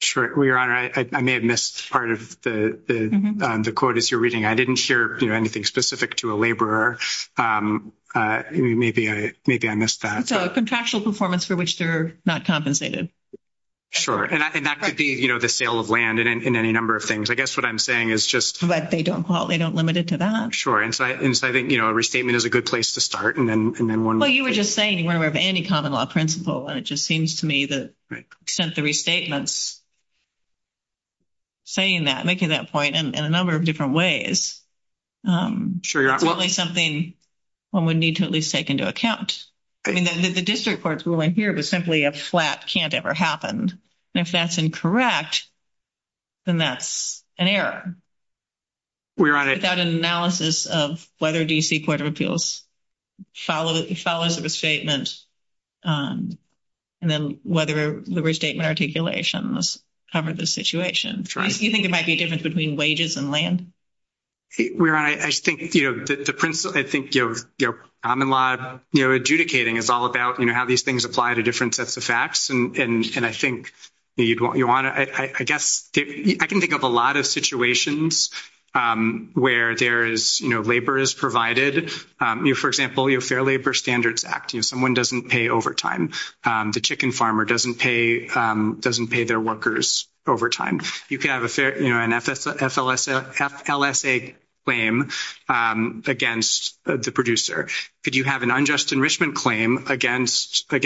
Sure. Your Honor, I may have missed part of the quote as you're reading. I didn't share anything specific to a laborer. Maybe I missed that. Contractual performance for which they're not compensated. And that could be, you know, the sale of land and any number of things. I guess what I'm saying is just. But they don't limit it to that. Sure. And so I think, you know, restatement is a good place to start. And then one more. Well, you were just saying, remember, of any common law principle. And it just seems to me that since the restatement's saying that, making that point in a number of different ways, it's something one would need to at least take into account. I mean, the district court's ruling here was simply a flat can't ever happen. If that's incorrect, then that's an error. Your Honor. Without an analysis of whether D.C. Court of Appeals follows the restatement. And then whether the restatement articulation was part of the situation. Sure. You think it might be a difference between wages and land? Your Honor, I think, you know, the principle. I think, you know, common law adjudicating is all about, you know, how these things apply to different sets of facts. And I think you'd want to, I guess, I can think of a lot of situations where there is, you know, labor is provided. For example, your Fair Labor Standards Act. Someone doesn't pay overtime. The chicken farmer doesn't pay their workers overtime. You can have a fair, you know, an FLSA claim against the producer. Could you have an unjust enrichment claim against a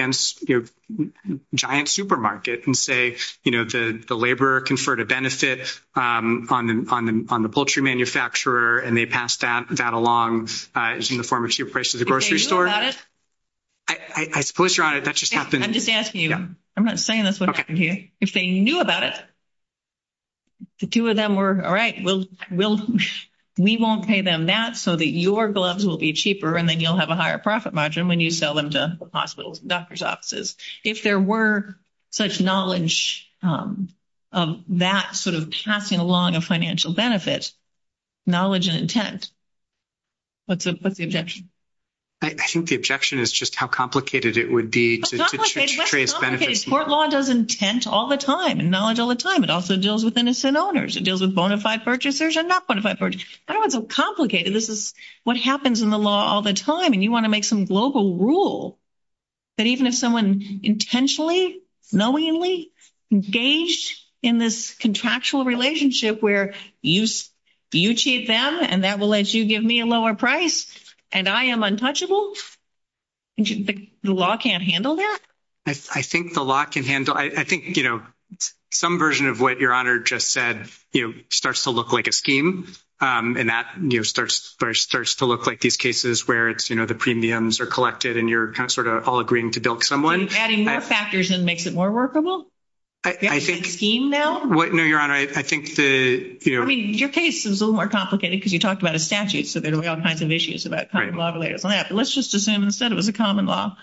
giant supermarket and say, you know, the laborer conferred a benefit on the poultry manufacturer and they passed that along as uniformity appraised to the grocery store? Did they know about it? I suppose, Your Honor, that just happened. I'm just asking you. I'm not saying that's what happened here. If they knew about it, the two of them were, all right, we won't pay them that so that your gloves will be cheaper and then you'll have a higher profit margin when you sell them to hospitals, doctor's offices. If there were such knowledge of that sort of passing along a financial benefit, knowledge and intent, what's the objection? I think the objection is just how complicated it would be to create benefits. Court law does intent all the time and knowledge all the time. It also deals with innocent owners. It deals with bona fide purchasers and not bona fide purchasers. That wasn't complicated. This is what happens in the law all the time. And you want to make some global rule that even if someone intentionally, knowingly engaged in this contractual relationship where you cheat them and that will let you give me a lower price and I am untouchable, the law can't handle that? I think the law can handle. I think, you know, some version of what Your Honor just said, you know, and that, you know, starts to look like these cases where it's, you know, the premiums are collected and you're kind of sort of all agreeing to bilk someone. Are you adding more factors and makes it more workable? I think... Is it a scheme now? What, no, Your Honor, I think the, you know... I mean, your case is a little more complicated because you talked about a statute, so there were all kinds of issues about common law related to that. But let's just assume instead it was a common law.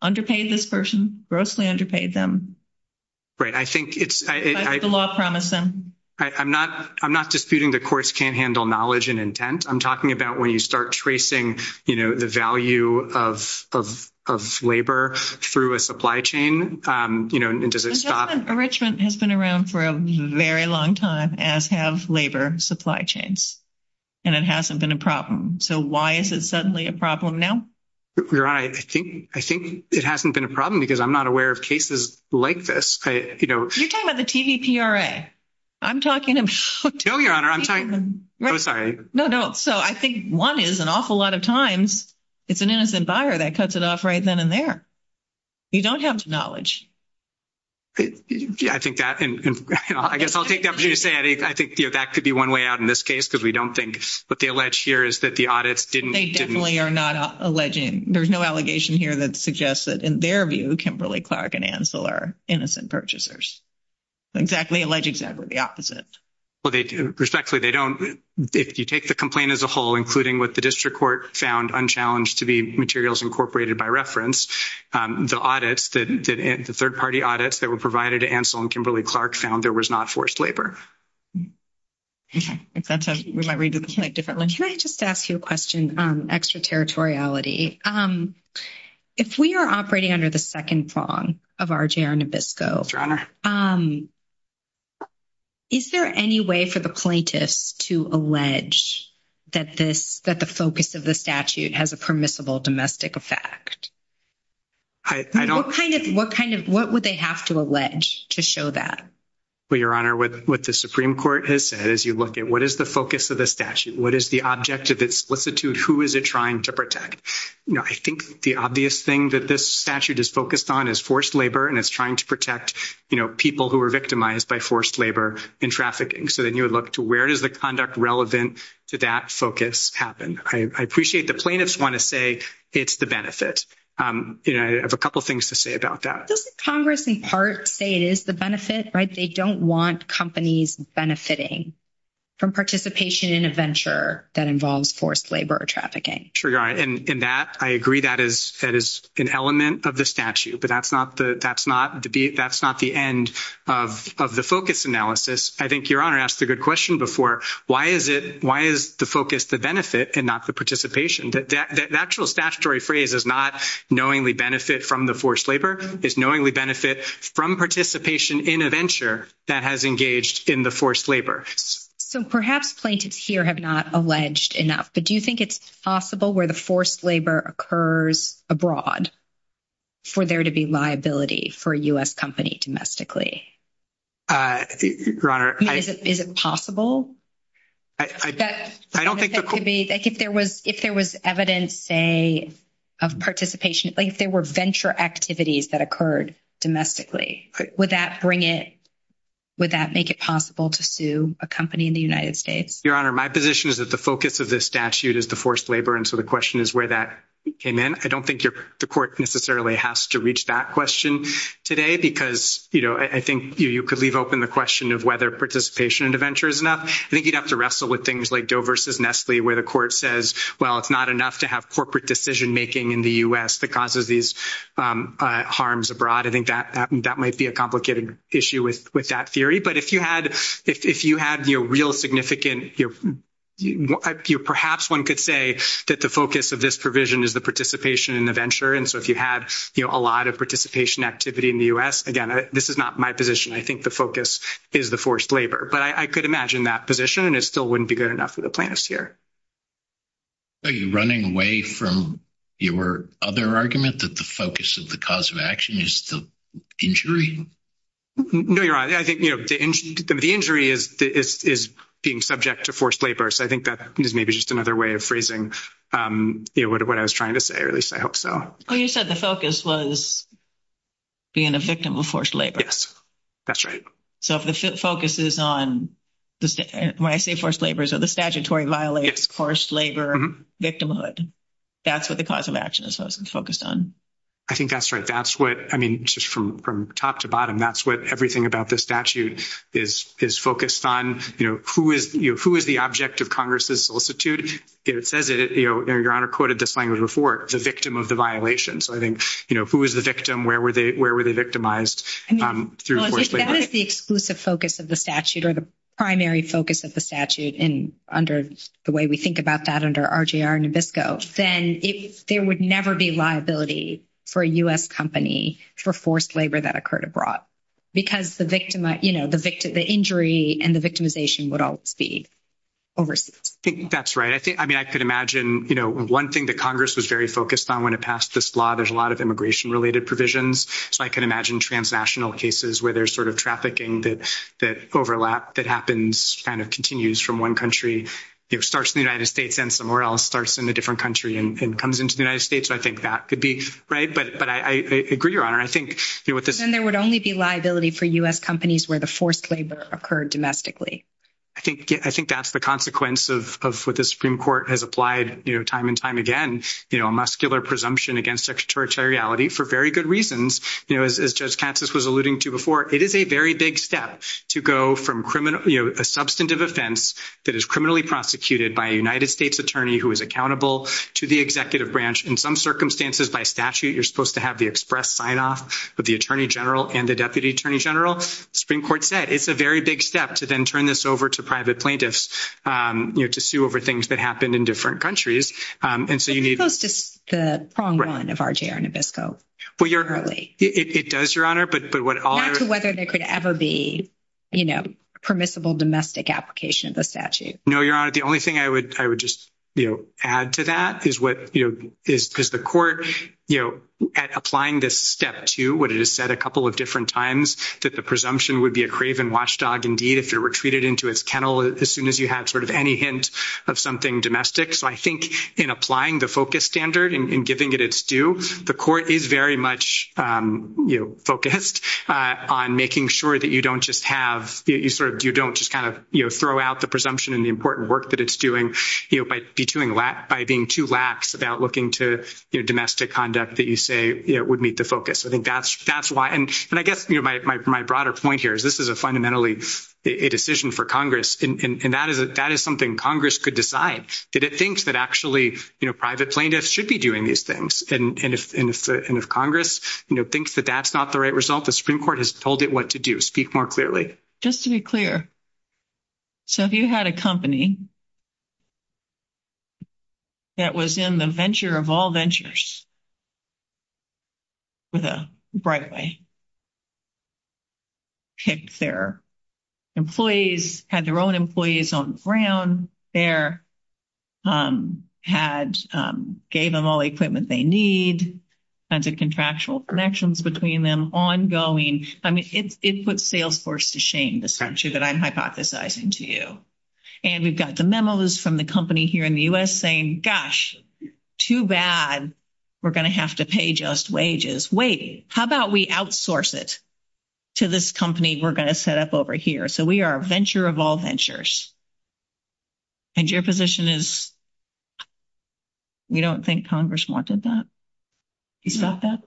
Underpaid this person, grossly underpaid them. Right, I think it's... That's the law promised them. I'm not disputing the courts can't handle knowledge and intent. I'm talking about when you start tracing, you know, the value of labor through a supply chain, you know, and does it stop? Enrichment has been around for a very long time, as have labor supply chains, and it hasn't been a problem. So why is it suddenly a problem now? Your Honor, I think it hasn't been a problem because I'm not aware of cases like this. You're talking about the TVPRA. I'm talking about... No, Your Honor, I'm talking... I'm sorry. No, don't. So I think one is, an awful lot of times, it's an innocent buyer that cuts it off right then and there. You don't have the knowledge. I think that, and I guess I'll take that. I think that could be one way out in this case, because we don't think what they allege here is that the audit didn't... They definitely are not alleging. There's no allegation here that suggests that, in their view, Kimberly-Clark and Ansel are innocent purchasers. Exactly. Alleged exactly the opposite. Well, they do. Respectfully, they don't. If you take the complaint as a whole, including what the district court found unchallenged to be materials incorporated by reference, the audits, the third-party audits that were provided to Ansel and Kimberly-Clark found there was not forced labor. Okay. If that's how you might read it, I'll take a different one. Can I just ask you a question on extraterritoriality? Okay. If we are operating under the second prong of RJR Nabisco, is there any way for the plaintiffs to allege that the focus of the statute has a permissible domestic effect? What would they have to allege to show that? Well, Your Honor, what the Supreme Court has said, as you look at, what is the focus of the statute? What is the object of its solicitude? Who is it trying to protect? I think the obvious thing that this statute is focused on is forced labor, and it's trying to protect people who are victimized by forced labor in trafficking. So then you would look to where does the conduct relevant to that focus happen? I appreciate the plaintiffs want to say it's the benefit. I have a couple of things to say about that. Doesn't Congress, in part, say it is the benefit, right? They don't want companies benefiting from participation in a venture that involves forced labor or trafficking. Sure, Your Honor. I agree that is an element of the statute, but that's not the end of the focus analysis. I think Your Honor asked a good question before. Why is the focus the benefit and not the participation? The actual statutory phrase is not knowingly benefit from the forced labor. It's knowingly benefit from participation in a venture that has engaged in the forced labor. So perhaps plaintiffs here have not alleged enough, but do you think it's possible where the forced labor occurs abroad for there to be liability for a U.S. company domestically? Your Honor, I— Is it possible? I don't think the— Like if there was evidence, say, of participation, like if there were venture activities that occurred domestically, would that bring it—would that make it possible to sue a company in the United States? Your Honor, my position is that the focus of this statute is the forced labor, and so the question is where that came in. I don't think the court necessarily has to reach that question today because, you know, I think you could leave open the question of whether participation in a venture is enough. I think you'd have to wrestle with things like Doe versus Nestle, where the court says, well, it's not enough to have corporate decision-making in the U.S. that causes these harms abroad. I think that might be a complicated issue with that theory. But if you had, you know, real significant— perhaps one could say that the focus of this provision is the participation in the venture, and so if you had, you know, a lot of participation activity in the U.S., again, this is not my position. I think the focus is the forced labor, but I could imagine that position, and it still wouldn't be good enough for the plaintiffs here. Are you running away from your other argument that the focus of the cause of action is the injury? No, Your Honor. I think, you know, the injury is being subject to forced labor, so I think that is maybe just another way of phrasing, you know, what I was trying to say, or at least I hope so. Well, you said the focus was being a victim of forced labor. Yes, that's right. So if the focus is on—when I say forced labor, so the statutory violates forced labor victimhood. That's what the cause of action is focused on. I think that's right. That's what—I mean, just from top to bottom, that's what everything about the statute is focused on. You know, who is the object of Congress's solicitude? It says that, you know, Your Honor quoted this language before, the victim of the violation. So I think, you know, who is the victim? Where were they victimized through forced labor? If that is the exclusive focus of the statute or the primary focus of the statute and under the way we think about that under RJR and Nabisco, then there would never be liability for a U.S. company for forced labor that occurred abroad. Because the victim, you know, the injury and the victimization would all be overseas. I think that's right. I think, I mean, I could imagine, you know, one thing that Congress was very focused on when it passed this law, there's a lot of immigration-related provisions. So I can imagine transnational cases where there's sort of trafficking that overlap, that happens, kind of continues from one country, you know, starts in the United States and somewhere else starts in a different country and comes into the United States. So I think that could be right. But I agree, Your Honor. Then there would only be liability for U.S. companies where the forced labor occurred domestically. I think that's the consequence of what the Supreme Court has applied, you know, time and time again, you know, muscular presumption against extraterritoriality for very good reasons. You know, as Judge Katsas was alluding to before, it is a very big step to go from criminal, you know, a substantive offense that is criminally prosecuted by a United States attorney who is accountable to the executive branch. In some circumstances, by statute, you're supposed to have the express sign-off with the attorney general and the deputy attorney general. Supreme Court said it's a very big step to then turn this over to private plaintiffs, you know, to sue over things that happened in different countries. And so you need... Supposed to be the pronged one of RJ or Nabisco. Well, Your Honor, it does, Your Honor. But what all... As to whether there could ever be, you know, permissible domestic application of the statute. No, Your Honor. The only thing I would just, you know, add to that is what, you know, is the court, you know, at applying this step to, what it has said a couple of different times, that the presumption would be a craven watchdog indeed if you were treated into its kennel as soon as you had sort of any hint of something domestic. So I think in applying the FOCUS standard and giving it its due, the court is very much, you know, focused on making sure that you don't just have... You sort of... You know, throw out the presumption and the important work that it's doing, you know, by being too lax about looking to, you know, domestic conduct that you say, you know, would meet the FOCUS. I think that's why... And I guess, you know, my broader point here is this is a fundamentally a decision for Congress. And that is something Congress could decide. Did it think that actually, you know, private plaintiffs should be doing these things? And if Congress, you know, thinks that that's not the right result, the Supreme Court has told it what to do. Speak more clearly. Just to be clear. So if you had a company that was in the venture of all ventures, with a right-of-way, kept their employees, had their own employees on the ground there, had... Gave them all the equipment they need, had the contractual connections between them ongoing. I mean, it puts Salesforce to shame, the structure that I'm hypothesizing to you. And we've got the memos from the company here in the U.S. saying, gosh, too bad, we're going to have to pay just wages. Wait, how about we outsource it to this company we're going to set up over here? So we are a venture of all ventures. And your position is we don't think Congress wanted that? You thought that?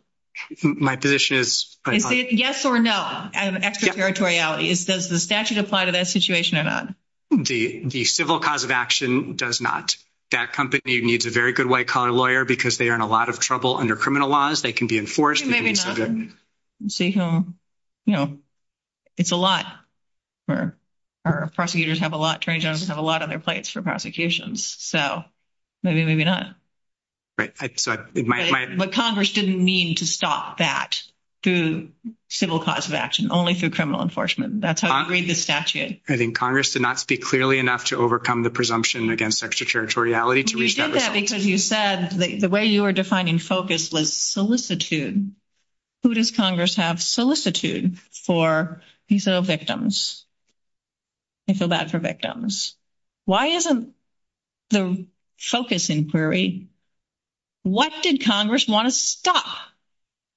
My position is... Yes or no, out of extraterritoriality. Does the statute apply to that situation or not? The civil cause of action does not. That company needs a very good white-collar lawyer because they are in a lot of trouble under criminal laws. They can be enforced. It may be nothing. So, you know, it's a lot. Our prosecutors have a lot, jury judges have a lot on their plates for prosecutions. So maybe, maybe not. Right. But Congress didn't mean to stop that through civil cause of action, only through criminal enforcement. That's how I read the statute. I think Congress did not speak clearly enough to overcome the presumption against extraterritoriality to reach that... You did that because you said the way you were defining focus was solicitude. Who does Congress have solicitude for? These are the victims. I feel bad for victims. Why isn't the focus inquiry? What did Congress want to stop?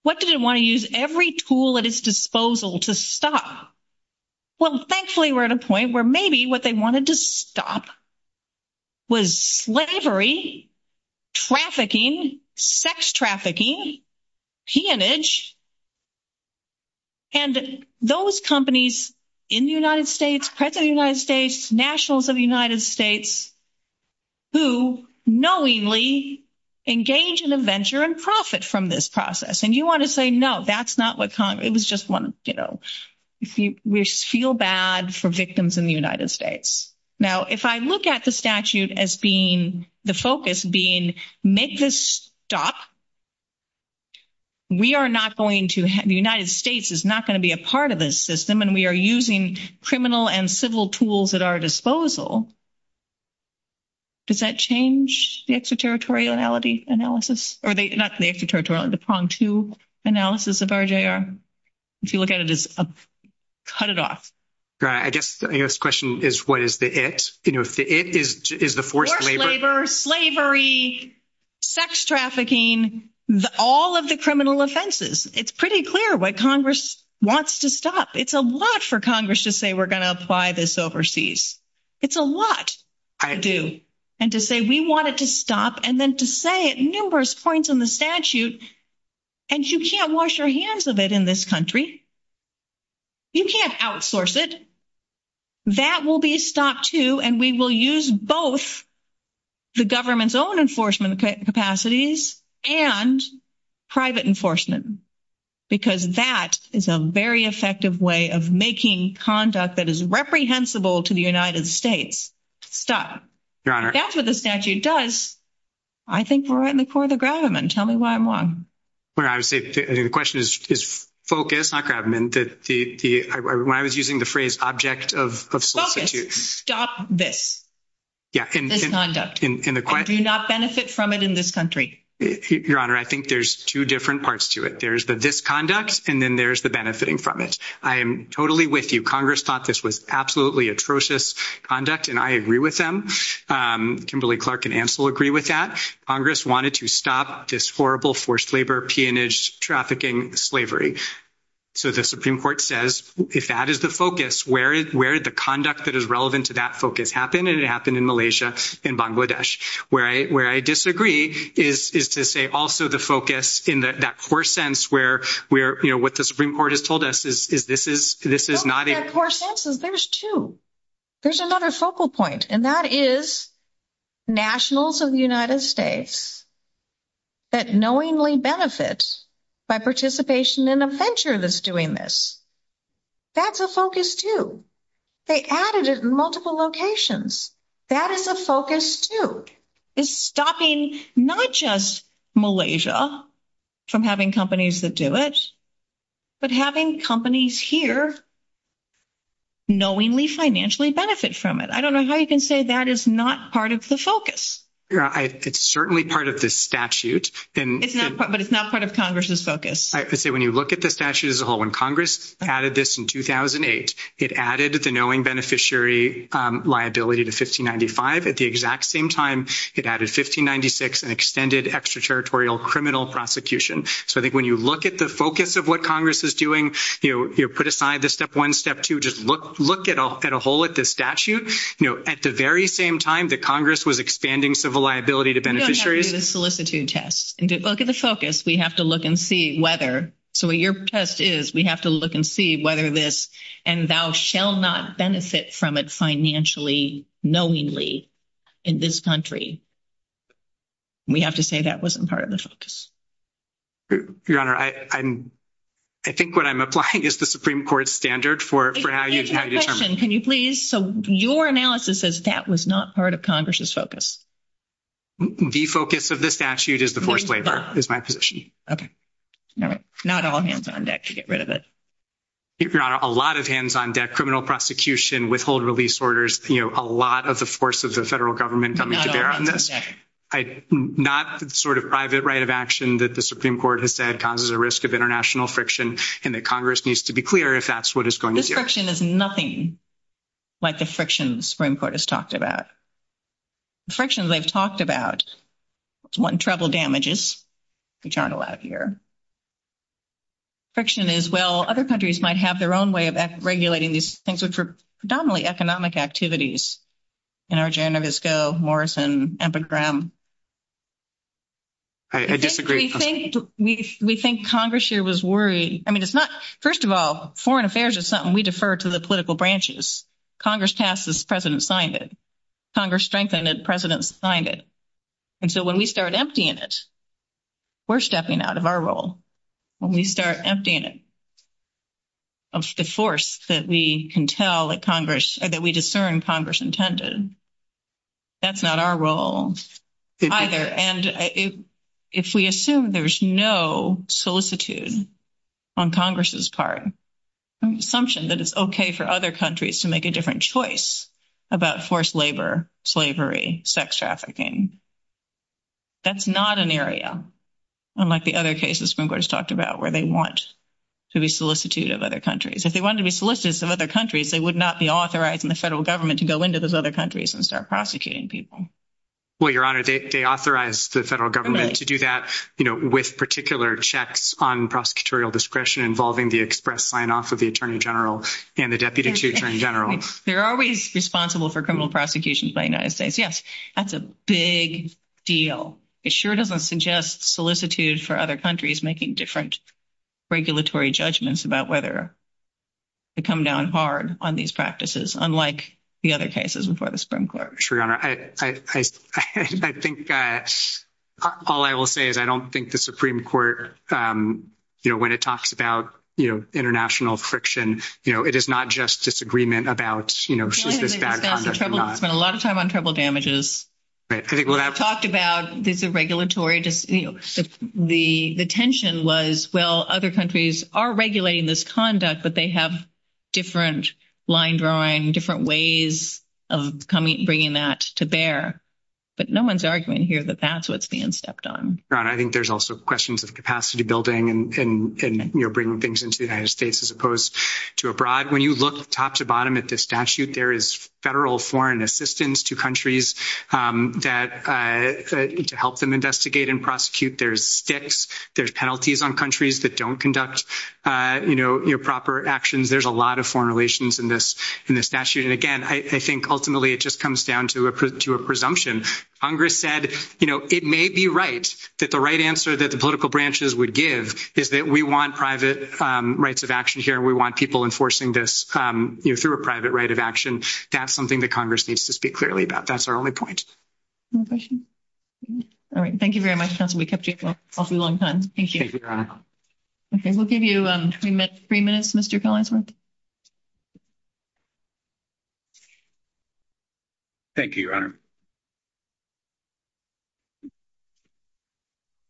What did it want to use every tool at its disposal to stop? Well, thankfully, we're at a point where maybe what they wanted to stop was slavery, trafficking, sex trafficking, teamage. And those companies in the United States, President of the United States, nationals of the United States, who knowingly engage in a venture and profit from this process. And you want to say, no, that's not what Congress... It was just one, you know, we feel bad for victims in the United States. Now, if I look at the statute as being, the focus being make this stop, we are not going to have... The United States is not going to be a part of this system. And we are using criminal and civil tools at our disposal. Does that change the extraterritoriality analysis? Or not the extraterritoriality, the prong-to analysis of RJR? If you look at it, it's cut it off. Yeah, I guess the question is, what is the it? You know, if the it is the forced labor... Forced labor, slavery, sex trafficking, all of the criminal offenses. It's pretty clear what Congress wants to stop. It's a lot for Congress to say, we're going to apply this overseas. It's a lot to do. And to say, we want it to stop. And then to say at numerous points in the statute, and you can't wash your hands of it in this country. You can't outsource it. That will be stopped too. And we will use both the government's own enforcement capacities and private enforcement. Because that is a very effective way of making conduct that is reprehensible to the United States. So, that's what the statute does. I think we're right in the court of Grabbaman. Tell me why I'm wrong. Well, I would say the question is focus, not Grabbaman. When I was using the phrase object of... Stop this. Yeah. This conduct. And do not benefit from it in this country. Your Honor, I think there's two different parts to it. There's the disconduct, and then there's the benefiting from it. I am totally with you. Congress thought this was absolutely atrocious conduct. And I agree with them. Kimberly Clark and Ansel agree with that. Congress wanted to stop this horrible forced labor, peonage, trafficking, slavery. So, the Supreme Court says, if that is the focus, where is the conduct that is relevant to that focus happen? And it happened in Malaysia, in Bangladesh. Where I disagree is to say also the focus in that core sense where what the Supreme Court has told us is this is not... Not that core sense. There's two. There's another focal point. And that is nationals of the United States that knowingly benefits by participation in a venture that's doing this. That's a focus too. They added it in multiple locations. That is a focus too. It's stopping not just Malaysia from having companies that do it, but having companies here knowingly financially benefit from it. I don't know how you can say that is not part of the focus. Yeah, it's certainly part of this statute. But it's not part of Congress's focus. I say, when you look at the statute as a whole, when Congress added this in 2008, it added the knowing beneficiary liability to 1595 at the exact same time it added 1596 and extended extraterritorial criminal prosecution. So I think when you look at the focus of what Congress is doing, you put aside the step one, step two, just look at a whole at the statute. At the very same time that Congress was expanding civil liability to beneficiary... You don't have to do the solicitude test. And to look at the focus, we have to look and see whether... So what your test is, we have to look and see whether this and thou shall not benefit from it financially knowingly in this country. We have to say that wasn't part of the focus. Your Honor, I think what I'm applying is the Supreme Court standard for... Can you please... So your analysis says that was not part of Congress's focus. The focus of the statute is the forced labor is my position. Okay, not all hands on deck to get rid of it. Your Honor, a lot of hands on deck, criminal prosecution, withhold release orders, a lot of the forces of the federal government... Not sort of private right of action that the Supreme Court has said causes a risk of international friction and that Congress needs to be clear if that's what it's going to do. This friction is nothing like the frictions the Supreme Court has talked about. The frictions I've talked about, one, travel damages, which aren't allowed here. Friction is, well, other countries might have their own way of regulating these things which are predominantly economic activities in our Genovesco, Morrison, Epigram. I disagree. We think Congress here was worried. I mean, it's not... First of all, foreign affairs is something we defer to the political branches. Congress passed this, President signed it. Congress strengthened it, President signed it. And so when we start emptying it, we're stepping out of our role. When we start emptying it of the force that we can tell that we discern Congress intended, that's not our role either. And if we assume there's no solicitude on Congress's part, an assumption that it's okay for other countries to make a different choice about forced labor, slavery, sex trafficking, that's not an area, unlike the other cases Springboard has talked about, where they want to be solicitude of other countries. If they wanted to be solicitudes of other countries, they would not be authorizing the federal government to go into those other countries and start prosecuting people. Well, Your Honor, they authorize the federal government to do that with particular checks on prosecutorial discretion involving the express sign-off of the Attorney General and the Deputy Chief Attorney General. There are ways responsible for criminal prosecutions by United States. Yes, that's a big deal. It sure doesn't suggest solicitude for other countries making different regulatory judgments about whether to come down hard on these practices, unlike the other cases before the Supreme Court. Sure, Your Honor. I think that all I will say is I don't think the Supreme Court, you know, when it talks about, you know, international friction, you know, it is not just disagreement about, you know, conduct or not. We spent a lot of time on tribal damages. We talked about the regulatory, you know, the tension was, well, other countries are regulating this conduct, but they have different line drawing, different ways of bringing that to bear. But no one's arguing here that that's what's being stepped on. Your Honor, I think there's also questions of capacity building and, you know, bringing things into the United States as opposed to abroad. When you look top to bottom at this statute, there is federal foreign assistance to countries that help them investigate and prosecute. There's sticks, there's penalties on countries that don't conduct, you know, proper actions. There's a lot of foreign relations in this statute. And again, I think ultimately it just comes down to a presumption. Congress said, you know, it may be right that the right answer that the political branches would give is that we want private rights of action here. We want people enforcing this, you know, through a private right of action. That's something that Congress needs to speak clearly about. That's our only point. No question. All right. Thank you very much, counsel. We kept you up for a long time. Thank you. Okay. We'll give you three minutes, Mr. Collinsworth. Thank you, Your Honor.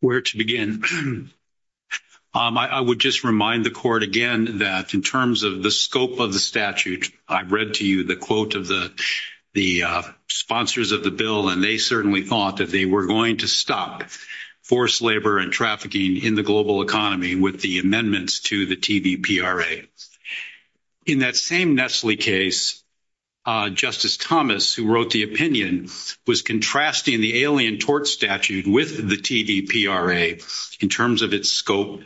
Where to begin? I would just remind the court again that in terms of the scope of the statute, I read to you the quote of the sponsors of the bill, and they certainly thought that they were going to stop forced labor and trafficking in the global economy with the amendments to the TDPRA. In that same Nestle case, Justice Thomas, who wrote the opinion, was contrasting the Alien Tort Statute with the TDPRA in terms of its scope.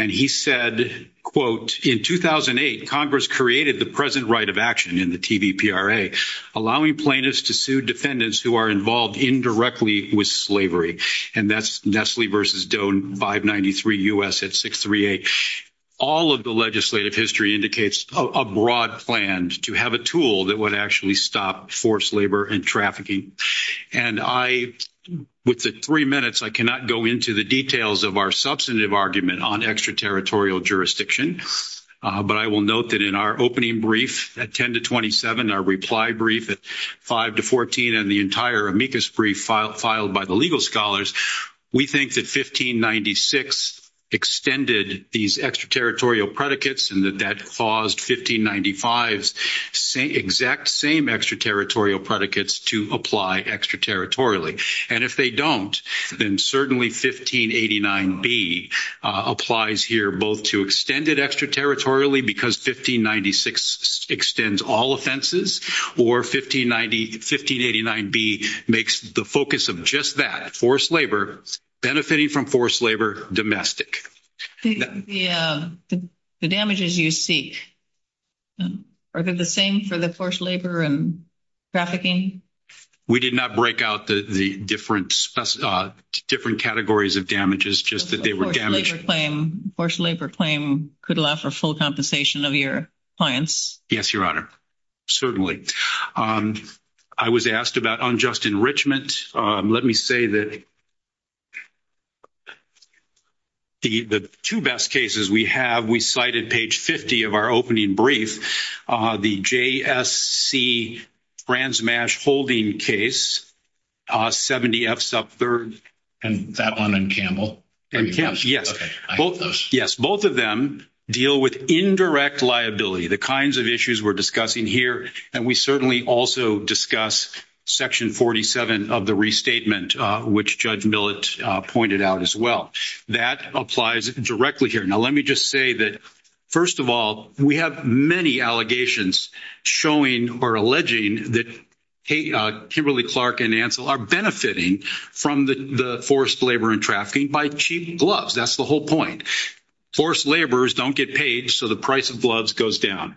And he said, quote, in 2008, Congress created the present right of action in the TDPRA, allowing plaintiffs to sue defendants who are involved indirectly with slavery. And that's Nestle versus Doe in 593 U.S. at 638. All of the legislative history indicates a broad plan to have a tool that would actually stop forced labor and trafficking. And I, with the three minutes, I cannot go into the details of our substantive argument on extraterritorial jurisdiction, but I will note that in our opening brief at 10 to 27, our reply brief at 5 to 14, and the entire amicus brief filed by the legal scholars, we think that 1596 extended these extraterritorial predicates and that that paused 1595's exact same extraterritorial predicates to apply extraterritorially. And if they don't, then certainly 1589B applies here, both to extend it extraterritorially, because 1596 extends all offenses, or 1589B makes the focus of just that, forced labor, benefiting from forced labor domestic. The damages you seek, are they the same for the forced labor and trafficking? We did not break out the different categories of damages, just that they were damaged. Forced labor claim could allow for full compensation of your clients. Yes, Your Honor, certainly. I was asked about unjust enrichment. Let me say that the two best cases we have, we cited page 50 of our opening brief, the JSC Brandsmash holding case, 70 F's up third. And that one and Campbell? And yes, both of them deal with indirect liability, the kinds of issues we're discussing here. And we certainly also discuss section 47 of the restatement, which Judge Millett pointed out as well. That applies directly here. Now, let me just say that, first of all, we have many allegations showing, or alleging that Kimberly Clark and Ansel are benefiting from the forced labor and trafficking by cheating gloves. That's the whole point. Forced laborers don't get paid. So the price of gloves goes down.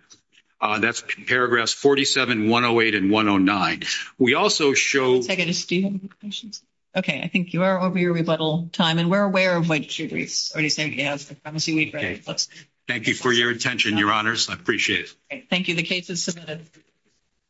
That's paragraph 47, 108 and 109. We also show. Okay. I think you are over your rebuttal time. And we're aware of when. Thank you for your attention, your honors. I appreciate it. Thank you.